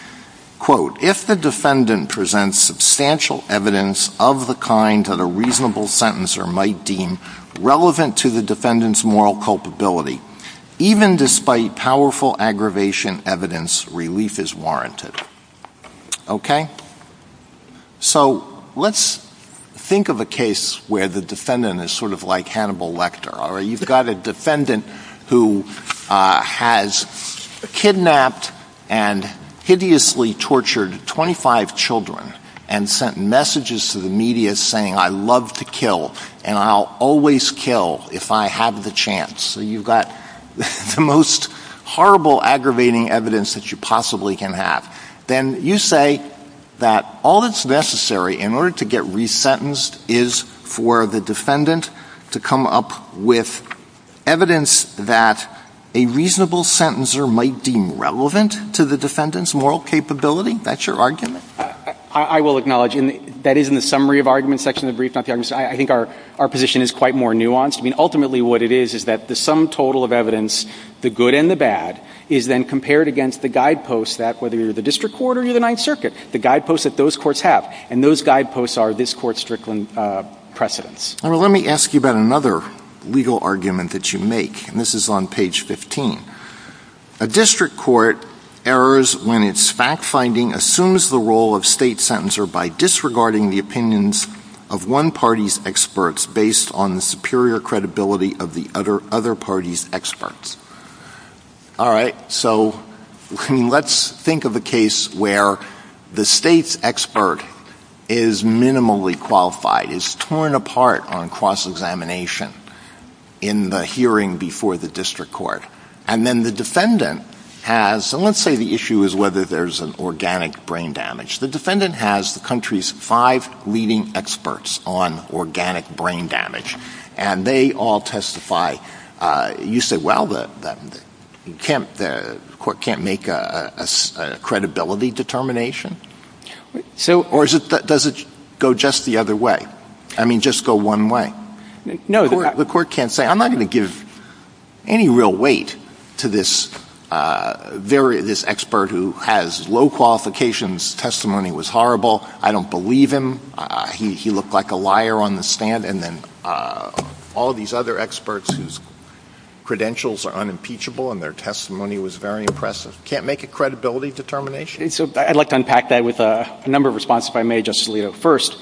Quote, if the defendant presents substantial evidence of the kind that a reasonable sentencer might deem relevant to the defendant's moral culpability, even despite powerful aggravation evidence, relief is warranted. Okay? So let's think of a case where the defendant is sort of like Hannibal Lecter. You've got a defendant who has kidnapped and hideously tortured 25 children and sent messages to the media saying, I love to kill, and I'll always kill if I have the chance. So you've got the most horrible aggravating evidence that you possibly can have. Then you say that all that's necessary in order to get resentenced is for the defendant to come up with evidence that a reasonable sentencer might deem relevant to the defendant's moral capability? That's your argument? I will acknowledge that is in the summary of argument section of the brief, not the argument section. I think our position is quite more nuanced. I mean, ultimately what it is is that the sum total of evidence, the good and the bad, is then compared against the guideposts that, whether you're the district court or you're the Ninth Circuit, the guideposts that those courts have. And those guideposts are this Court's Strickland precedents. Let me ask you about another legal argument that you make, and this is on page 15. A district court errors when its fact-finding assumes the role of state sentencer by disregarding the opinions of one party's experts based on the superior credibility of the other party's experts. All right, so let's think of a case where the state's expert is minimally qualified, is torn apart on cross-examination in the hearing before the district court. And then the defendant has, and let's say the issue is whether there's an organic brain damage. The defendant has the country's five leading experts on organic brain damage, and they all testify. You say, well, the court can't make a credibility determination? Or does it go just the other way? I mean, just go one way? No. The court can't say, I'm not going to give any real weight to this expert who has low qualifications, testimony was horrible, I don't believe him, he looked like a liar on the stand. And then all these other experts whose credentials are unimpeachable and their testimony was very impressive can't make a credibility determination? So I'd like to unpack that with a number of responses if I may, Justice Alito. First,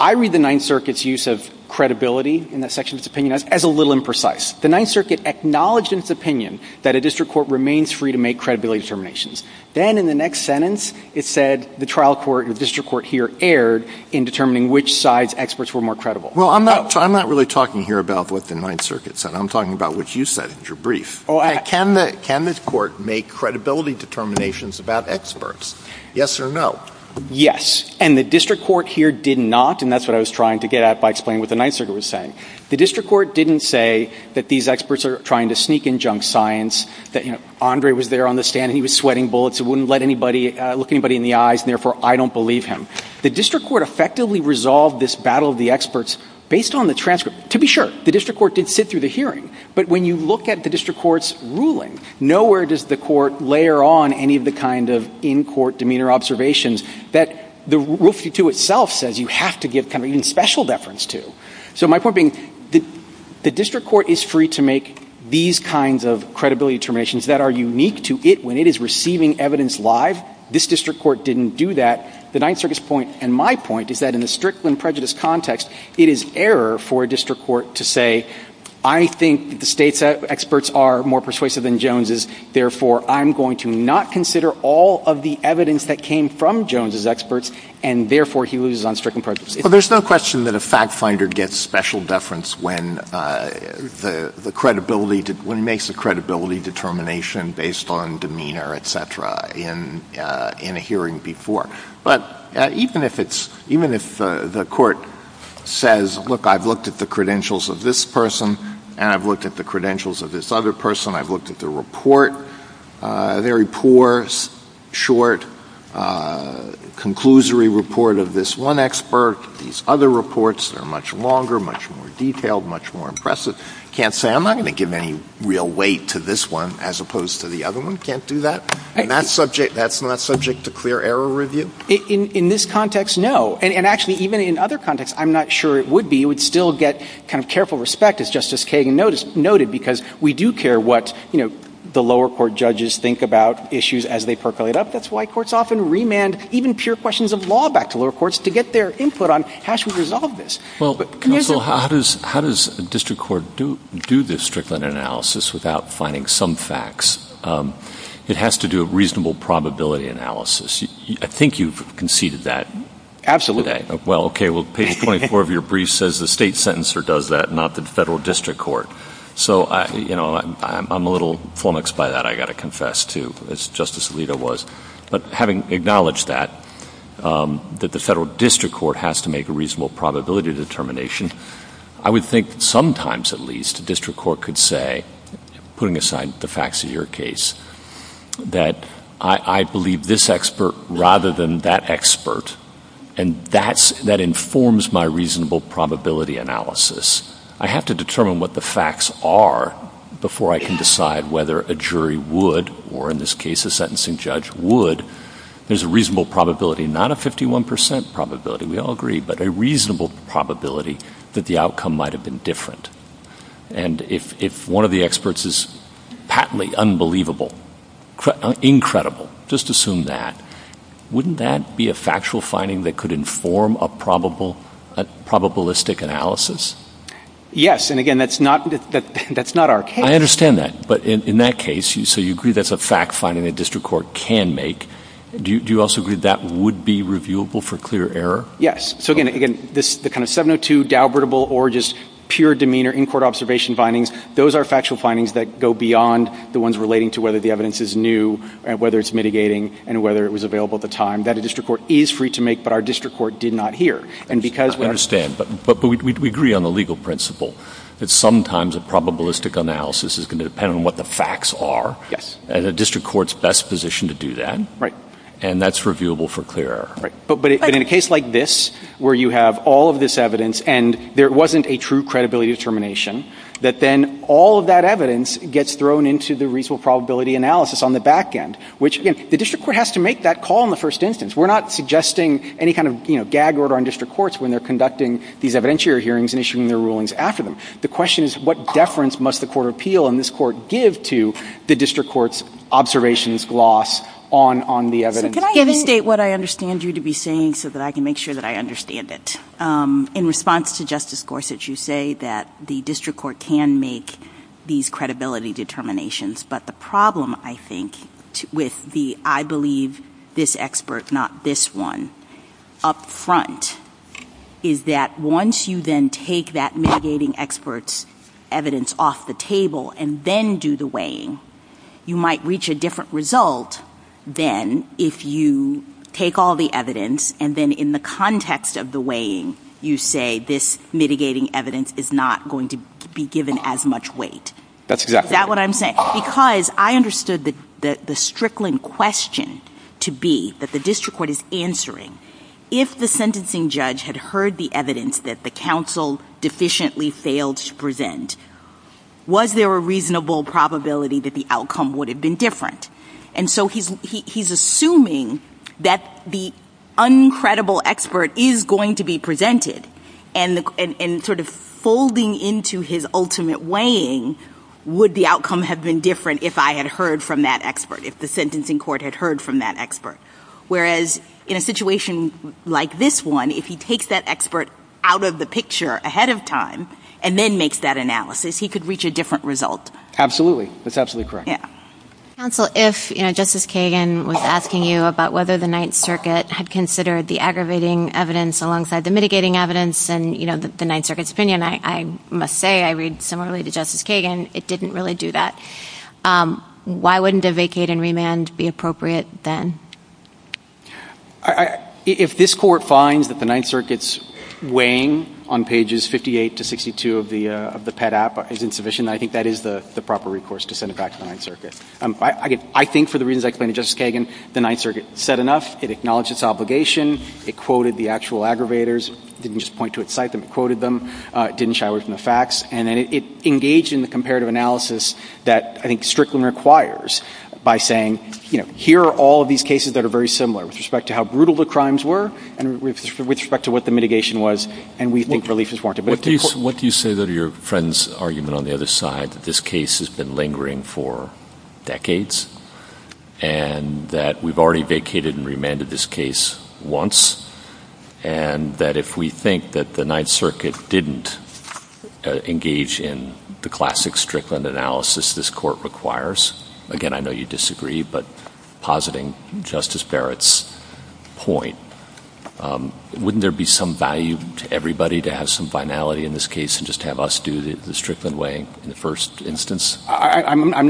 I read the Ninth Circuit's use of credibility in that section of its opinion as a little imprecise. The Ninth Circuit acknowledged in its opinion that a district court remains free to make credibility determinations. Then in the next sentence, it said the trial court, the district court here, erred in determining which side's experts were more credible. Well, I'm not really talking here about what the Ninth Circuit said. I'm talking about what you said in your brief. Can the court make credibility determinations about experts, yes or no? Yes, and the district court here did not, and that's what I was trying to get at by explaining what the Ninth Circuit was saying. The district court didn't say that these experts are trying to sneak in junk science, that Andre was there on the stand and he was sweating bullets, it wouldn't let anybody look anybody in the eyes, and therefore I don't believe him. The district court effectively resolved this battle of the experts based on the transcript. To be sure, the district court did sit through the hearing. But when you look at the district court's ruling, nowhere does the court layer on any of the kind of in-court demeanor observations that the Rule 52 itself says you have to give kind of even special deference to. So my point being, the district court is free to make these kinds of credibility determinations that are unique to it when it is receiving evidence live. This district court didn't do that. The Ninth Circuit's point, and my point, is that in the Strickland prejudice context, it is error for a district court to say, I think the State's experts are more persuasive than Jones's, therefore I'm going to not consider all of the evidence that came from Jones's experts, and therefore he loses on Strickland prejudice. Well, there's no question that a fact-finder gets special deference when the credibility — when he makes a credibility determination based on demeanor, et cetera, in a hearing before. But even if it's — even if the court says, look, I've looked at the credentials of this person, and I've looked at the credentials of this other person, I've looked at the report, a very poor, short, conclusory report of this one expert, these other reports are much longer, much more detailed, much more impressive, can't say, I'm not going to give any real weight to this one as opposed to the other one, can't do that. And that's subject — that's not subject to clear error review? In this context, no. And actually, even in other contexts, I'm not sure it would be. It would still get kind of careful respect, as Justice Kagan noted, because we do care what, you know, the lower court judges think about issues as they percolate up. That's why courts often remand even pure questions of law back to lower courts to get their input on how should we resolve this. Well, Counsel, how does a district court do this Strickland analysis without finding some facts? It has to do a reasonable probability analysis. I think you've conceded that. Absolutely. Well, okay, well, page 24 of your brief says the state sentencer does that, not the federal district court. So, you know, I'm a little flummoxed by that, I've got to confess, too, as Justice Alito was. But having acknowledged that, that the federal district court has to make a reasonable probability determination, I would think sometimes, at least, a district court could say, putting aside the facts of your case, that I believe this expert rather than that expert, and that informs my reasonable probability analysis. I have to determine what the facts are before I can decide whether a jury would, or in this case a sentencing judge would, there's a reasonable probability, not a 51 percent probability, we all agree, but a reasonable probability that the outcome might have been different. And if one of the experts is patently unbelievable, incredible, just assume that, wouldn't that be a factual finding that could inform a probabilistic analysis? Yes. And, again, that's not our case. I understand that. But in that case, so you agree that's a fact finding that district court can make. Do you also agree that would be reviewable for clear error? Yes. So, again, the kind of 702, Dalbertable, or just pure demeanor in-court observation findings, those are factual findings that go beyond the ones relating to whether the evidence is new, whether it's mitigating, and whether it was available at the time, that a district court is free to make, but our district court did not hear. I understand. But we agree on the legal principle that sometimes a probabilistic analysis is going to depend on what the facts are. Yes. And a district court's best position to do that. Right. And that's reviewable for clear error. Right. But in a case like this, where you have all of this evidence and there wasn't a true credibility determination, that then all of that evidence gets thrown into the reasonable probability analysis on the back end, which, again, the district court has to make that call in the first instance. We're not suggesting any kind of, you know, gag order on district courts when they're conducting these evidentiary hearings and issuing their rulings after them. The question is what deference must the Court of Appeal and this Court give to the district court's observations, gloss on the evidence. So can I even state what I understand you to be saying so that I can make sure that I understand it? In response to Justice Gorsuch, you say that the district court can make these credibility determinations. But the problem, I think, with the I believe this expert, not this one, up front, is that once you then take that mitigating expert's evidence off the table and then do the weighing, you might reach a different result than if you take all the evidence and then in the context of the weighing, you say this mitigating evidence is not going to be given as much weight. That's exactly right. Is that what I'm saying? Because I understood the strickling question to be, that the district court is answering, if the sentencing judge had heard the evidence that the counsel deficiently failed to present, was there a reasonable probability that the outcome would have been different? And so he's assuming that the uncredible expert is going to be presented and sort of folding into his ultimate weighing would the outcome have been different if I had heard from that expert, if the sentencing court had heard from that expert. Whereas in a situation like this one, if he takes that expert out of the picture ahead of time and then makes that analysis, he could reach a different result. Absolutely. That's absolutely correct. Counsel, if Justice Kagan was asking you about whether the Ninth Circuit had considered the aggravating evidence alongside the mitigating evidence and the Ninth Circuit's opinion, I must say I read similarly to Justice Kagan, it didn't really do that. Why wouldn't a vacate and remand be appropriate then? If this court finds that the Ninth Circuit's weighing on pages 58 to 62 of the PET app is insufficient, I think that is the proper recourse to send it back to the Ninth Circuit. I think for the reasons I explained to Justice Kagan, the Ninth Circuit said enough. It acknowledged its obligation. It quoted the actual aggravators. It didn't just point to its site. It quoted them. It didn't shy away from the facts. And it engaged in the comparative analysis that I think Strickland requires by saying, you know, here are all of these cases that are very similar with respect to how brutal the crimes were and with respect to what the mitigation was, and we think relief is warranted. What do you say to your friend's argument on the other side that this case has been lingering for decades and that we've already vacated and remanded this case once and that if we think that the Ninth Circuit didn't engage in the classic Strickland analysis this court requires? Again, I know you disagree, but positing Justice Barrett's point, wouldn't there be some value to everybody to have some finality in this case and just have us do the Strickland weighing in the first instance? I'm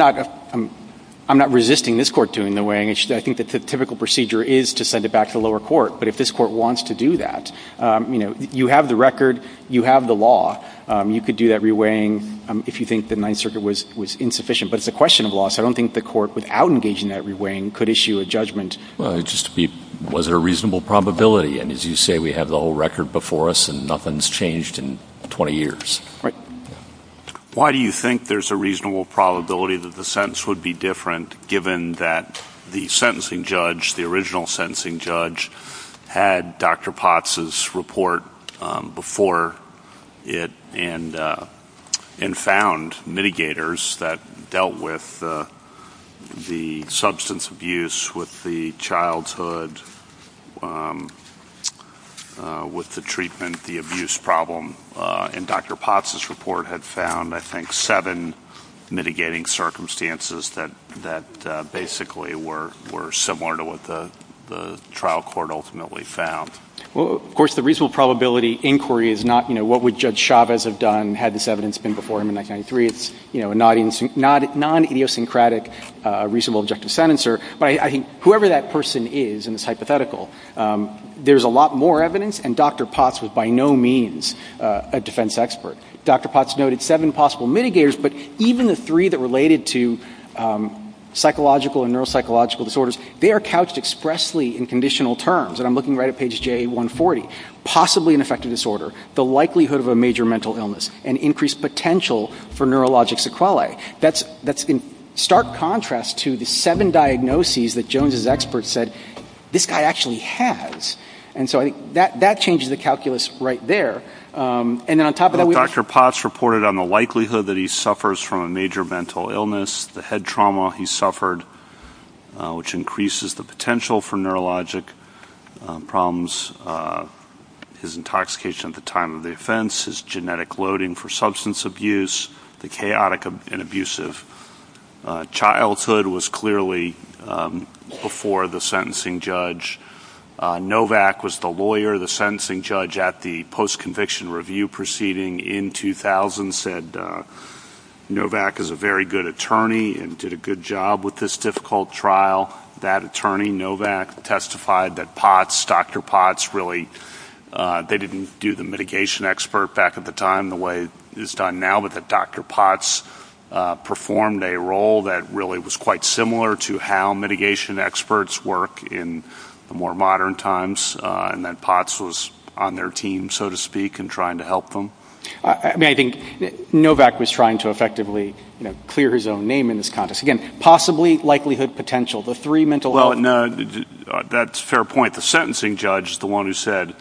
not resisting this court doing the weighing. I think that the typical procedure is to send it back to the lower court. But if this court wants to do that, you know, you have the record, you have the law. You could do that re-weighing if you think the Ninth Circuit was insufficient. But it's a question of law, so I don't think the court, without engaging that re-weighing, could issue a judgment. Well, just to be—was there a reasonable probability? And as you say, we have the whole record before us and nothing's changed in 20 years. Right. Why do you think there's a reasonable probability that the sentence would be different given that the sentencing judge, the original sentencing judge, had Dr. Potts' report before it and found mitigators that dealt with the substance abuse with the childhood, with the treatment, the abuse problem. And Dr. Potts' report had found, I think, seven mitigating circumstances that basically were similar to what the trial court ultimately found. Well, of course, the reasonable probability inquiry is not, you know, what would Judge Chavez have done had this evidence been before him in 1993. It's, you know, a non-idiosyncratic reasonable objective sentencer. But I think whoever that person is in this hypothetical, there's a lot more evidence, and Dr. Potts was by no means a defense expert. Dr. Potts noted seven possible mitigators, but even the three that related to psychological and neuropsychological disorders, they are couched expressly in conditional terms. And I'm looking right at page J140. Possibly an affective disorder, the likelihood of a major mental illness, and increased potential for neurologic sequelae. That's in stark contrast to the seven diagnoses that Jones' experts said, this guy actually has. And so I think that changes the calculus right there. And then on top of that, we have... Dr. Potts reported on the likelihood that he suffers from a major mental illness, the head trauma he suffered, which increases the potential for neurologic problems, his intoxication at the time of the offense, his genetic loading for substance abuse, the chaotic and abusive childhood was clearly before the sentencing judge. Novak was the lawyer, the sentencing judge at the post-conviction review proceeding in 2000, said Novak is a very good attorney and did a good job with this difficult trial. That attorney, Novak, testified that Potts, Dr. Potts, really, they didn't do the mitigation expert back at the time the way it's done now, but that Dr. Potts performed a role that really was quite similar to how mitigation experts work in the more modern times, and that Potts was on their team, so to speak, in trying to help them. I think Novak was trying to effectively clear his own name in this context. Again, possibly, likelihood, potential, the three mental... That's a fair point. The sentencing judge is the one who said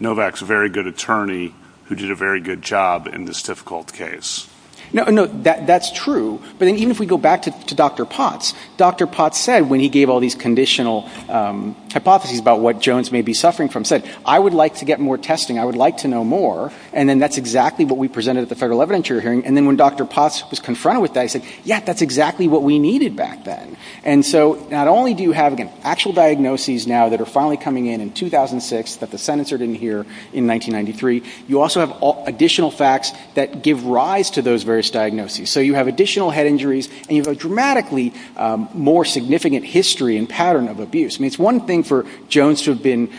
Novak's a very good attorney who did a very good job in this difficult case. No, that's true. But even if we go back to Dr. Potts, Dr. Potts said when he gave all these conditional hypotheses about what Jones may be suffering from, said, I would like to get more testing, I would like to know more, and then that's exactly what we presented at the federal evidentiary hearing, and then when Dr. Potts was confronted with that, he said, yeah, that's exactly what we needed back then. And so not only do you have, again, actual diagnoses now that are finally coming in in 2006 that the sentencer didn't hear in 1993, you also have additional facts that give rise to those various diagnoses. So you have additional head injuries, and you have a dramatically more significant history and pattern of abuse. I mean, it's one thing for Jones to have been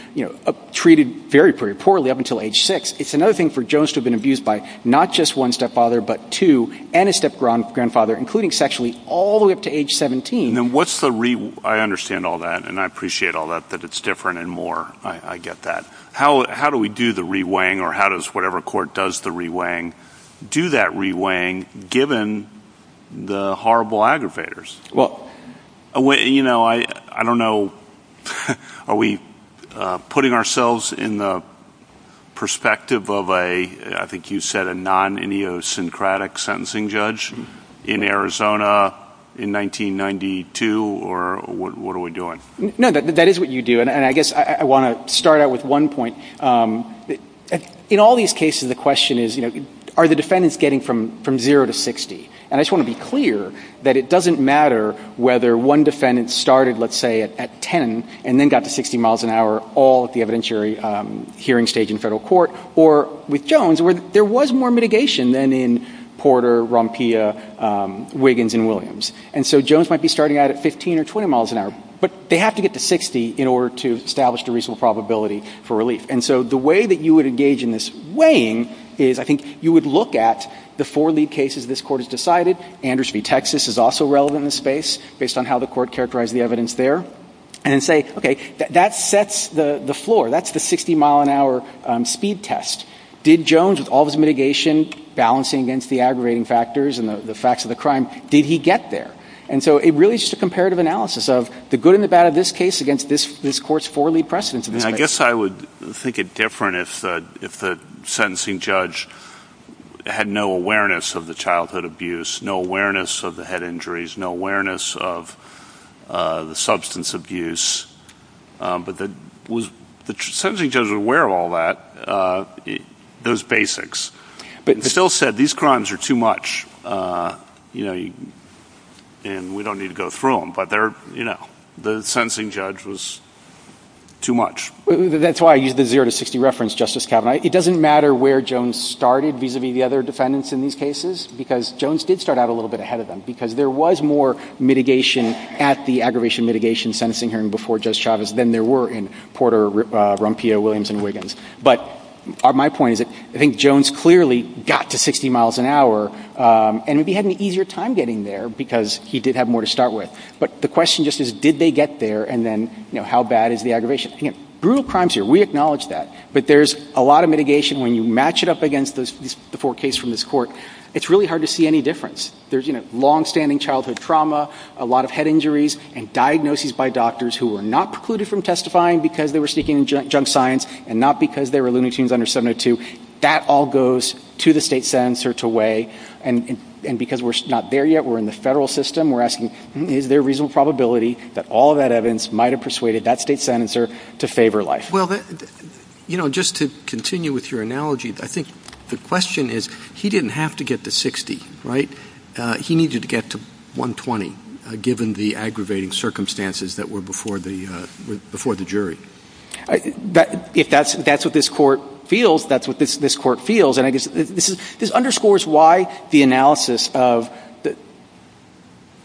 treated very, very poorly up until age 6. It's another thing for Jones to have been abused by not just one stepfather, but two, and a step-grandfather, including sexually, all the way up to age 17. And then what's the re... I understand all that, and I appreciate all that, that it's different and more. I get that. How do we do the reweighing, or how does whatever court does the reweighing, do that reweighing given the horrible aggravators? Well... You know, I don't know. Are we putting ourselves in the perspective of a, I think you said, a non-idiosyncratic sentencing judge in Arizona in 1992, or what are we doing? No, that is what you do. And I guess I want to start out with one point. In all these cases, the question is, you know, are the defendants getting from 0 to 60? And I just want to be clear that it doesn't matter whether one defendant started, let's say, at 10, and then got to 60 miles an hour all at the evidentiary hearing stage in federal court, or with Jones, where there was more mitigation than in Porter, Rompia, Wiggins, and Williams. And so Jones might be starting out at 15 or 20 miles an hour, but they have to get to 60 in order to establish a reasonable probability for relief. And so the way that you would engage in this weighing is, I think, you would look at the four lead cases this Court has decided. Anders v. Texas is also relevant in this space, based on how the Court characterized the evidence there, and then say, okay, that sets the floor. That's the 60-mile-an-hour speed test. Did Jones, with all his mitigation, balancing against the aggravating factors and the facts of the crime, did he get there? And so it really is just a comparative analysis of the good and the bad of this case against this Court's four lead precedents. And I guess I would think it different if the sentencing judge had no awareness of the childhood abuse, no awareness of the head injuries, no awareness of the substance abuse, but the sentencing judge was aware of all that, those basics, and still said, these crimes are too much, and we don't need to go through them. But the sentencing judge was too much. That's why I used the zero to 60 reference, Justice Kavanaugh. It doesn't matter where Jones started, vis-à-vis the other defendants in these cases, because Jones did start out a little bit ahead of them, because there was more mitigation at the aggravation mitigation sentencing hearing before Judge Chavez than there were in Porter, Rumpia, Williams, and Wiggins. But my point is that I think Jones clearly got to 60 miles an hour, and maybe had an easier time getting there, because he did have more to start with. But the question just is, did they get there, and then how bad is the aggravation? Again, brutal crimes here. We acknowledge that. But there's a lot of mitigation when you match it up against the four cases from this Court. It's really hard to see any difference. There's longstanding childhood trauma, a lot of head injuries, and diagnoses by doctors who were not precluded from testifying because they were sneaking in junk signs and not because there were loony tunes under 702. That all goes to the state sentencer to weigh. And because we're not there yet, we're in the federal system, we're asking, is there a reasonable probability that all of that evidence might have persuaded that state sentencer to favor life? Well, you know, just to continue with your analogy, I think the question is, he didn't have to get to 60, right? He needed to get to 120, given the aggravating circumstances that were before the jury. If that's what this Court feels, that's what this Court feels. And I guess this underscores why the analysis of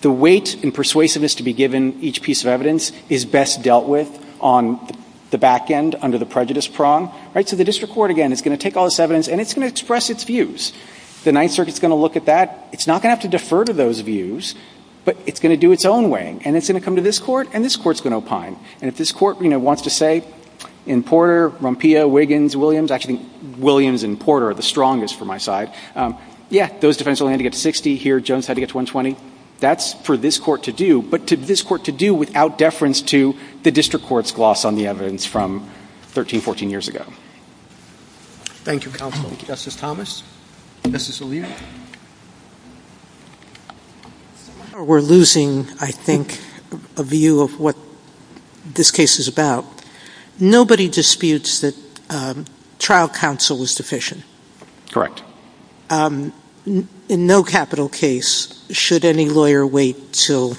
the weight and persuasiveness to be given each piece of evidence is best dealt with on the back end under the prejudice prong. So the district court, again, is going to take all this evidence, and it's going to express its views. The Ninth Circuit is going to look at that. It's not going to have to defer to those views, but it's going to do its own weighing. And it's going to come to this Court, and this Court's going to opine. And if this Court, you know, wants to say, in Porter, Rompillo, Wiggins, Williams, actually, Williams and Porter are the strongest for my side. Yeah, those defendants only had to get to 60. Here, Jones had to get to 120. That's for this Court to do, but to this Court to do without deference to the district court's gloss on the evidence from 13, 14 years ago. Thank you, counsel. Thank you, Justice Thomas. Justice Alito. We're losing, I think, a view of what this case is about. Nobody disputes that trial counsel is deficient. Correct. In no capital case should any lawyer wait until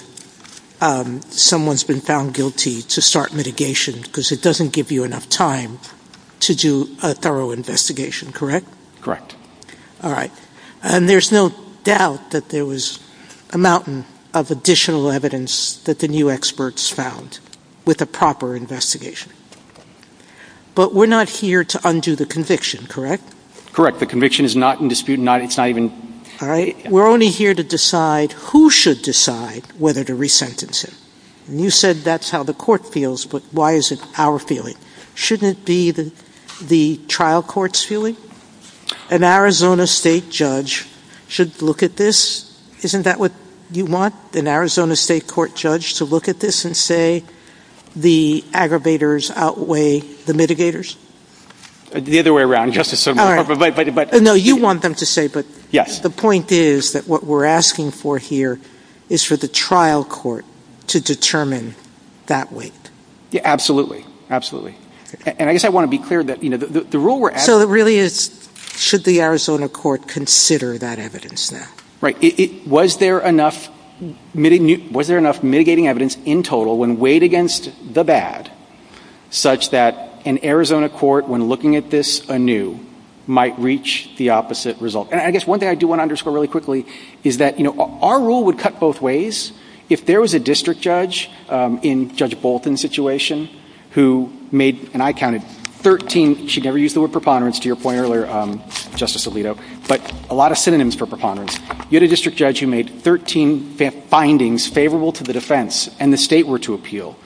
someone's been found guilty to start mitigation because it doesn't give you enough time to do a thorough investigation, correct? Correct. All right. And there's no doubt that there was a mountain of additional evidence that the new experts found with a proper investigation. But we're not here to undo the conviction, correct? Correct. The conviction is not in dispute. It's not even — All right. We're only here to decide who should decide whether to resentence him. And you said that's how the Court feels, but why is it our feeling? Shouldn't it be the trial court's feeling? An Arizona State judge should look at this. Isn't that what you want? An Arizona State court judge to look at this and say the aggravators outweigh the mitigators? The other way around, Justice Sotomayor. All right. But — No, you want them to say, but — Yes. The point is that what we're asking for here is for the trial court to determine that weight. Absolutely. Absolutely. And I guess I want to be clear that the rule we're — So it really is should the Arizona court consider that evidence now? Right. Was there enough mitigating evidence in total when weighed against the bad such that an Arizona court, when looking at this anew, might reach the opposite result? And I guess one thing I do want to underscore really quickly is that, you know, our rule would cut both ways. If there was a district judge in Judge Bolton's situation who made, and I counted, 13 — you should never use the word preponderance to your point earlier, Justice Alito, but a lot of synonyms for preponderance. You had a district judge who made 13 findings favorable to the defense and the State were to appeal.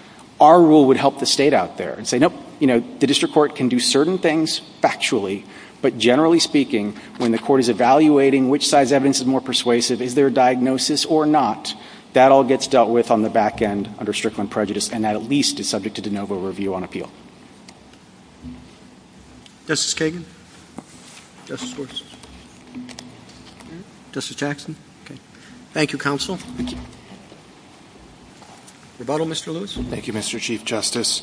Our rule would help the State out there and say, nope, you know, the district court can do certain things factually, but generally speaking, when the court is evaluating which side's evidence is more persuasive, is there a diagnosis or not, that all gets dealt with on the back end under Strickland prejudice, and that at least is subject to de novo review on appeal. Justice Kagan? Justice Gorsuch? Justice Jackson? Thank you, counsel. Rebuttal, Mr. Lewis? Thank you, Mr. Chief Justice.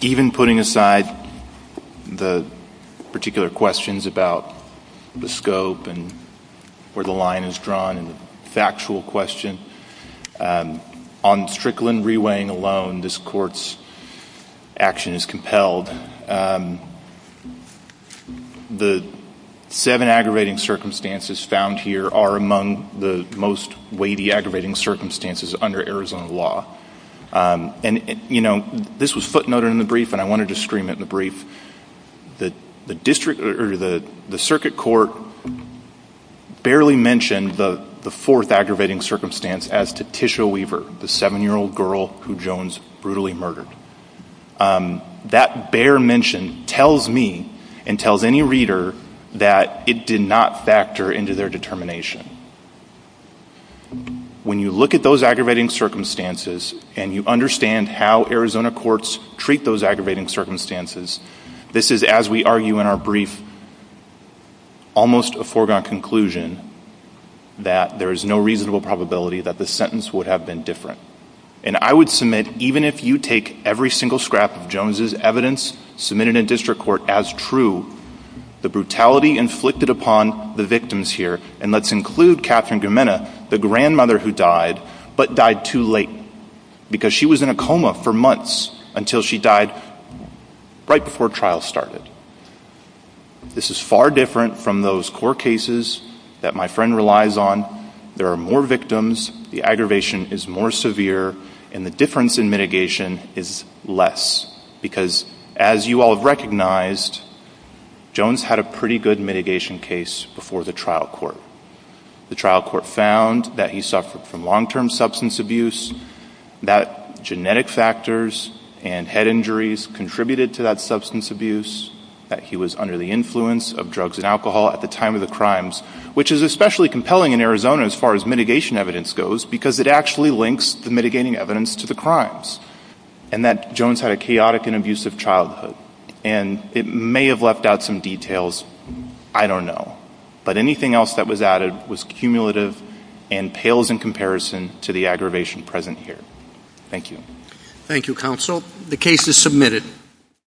Even putting aside the particular questions about the scope and where the line is drawn and the factual question, on Strickland reweighing alone, this Court's action is compelled. The seven aggravating circumstances found here are among the most weighty aggravating circumstances under Arizona law. And, you know, this was footnoted in the brief and I wanted to scream it in the brief. The district or the circuit court barely mentioned the fourth aggravating circumstance as to Tisha Weaver, the seven-year-old girl who Jones brutally murdered. That bare mention tells me and tells any reader that it did not factor into their determination. When you look at those aggravating circumstances and you understand how Arizona courts treat those aggravating circumstances, this is, as we argue in our brief, almost a foregone conclusion that there is no reasonable probability that the sentence would have been different. And I would submit, even if you take every single scrap of Jones' evidence submitted in district court as true, the brutality inflicted upon the victims here, and let's include Catherine Gimena, the grandmother who died, but died too late because she was in a coma for months until she died right before trial started. This is far different from those court cases that my friend relies on. There are more victims, the aggravation is more severe, and the difference in mitigation is less because as you all have recognized, Jones had a pretty good mitigation case before the trial court. The trial court found that he suffered from long-term substance abuse, that genetic factors and head injuries contributed to that substance abuse, that he was under the influence of drugs and alcohol at the time of the crimes, which is especially compelling in Arizona as far as mitigation evidence goes and that Jones had a chaotic and abusive childhood. And it may have left out some details, I don't know, but anything else that was added was cumulative and pales in comparison to the aggravation present here. Thank you. Thank you, Counsel. The case is submitted.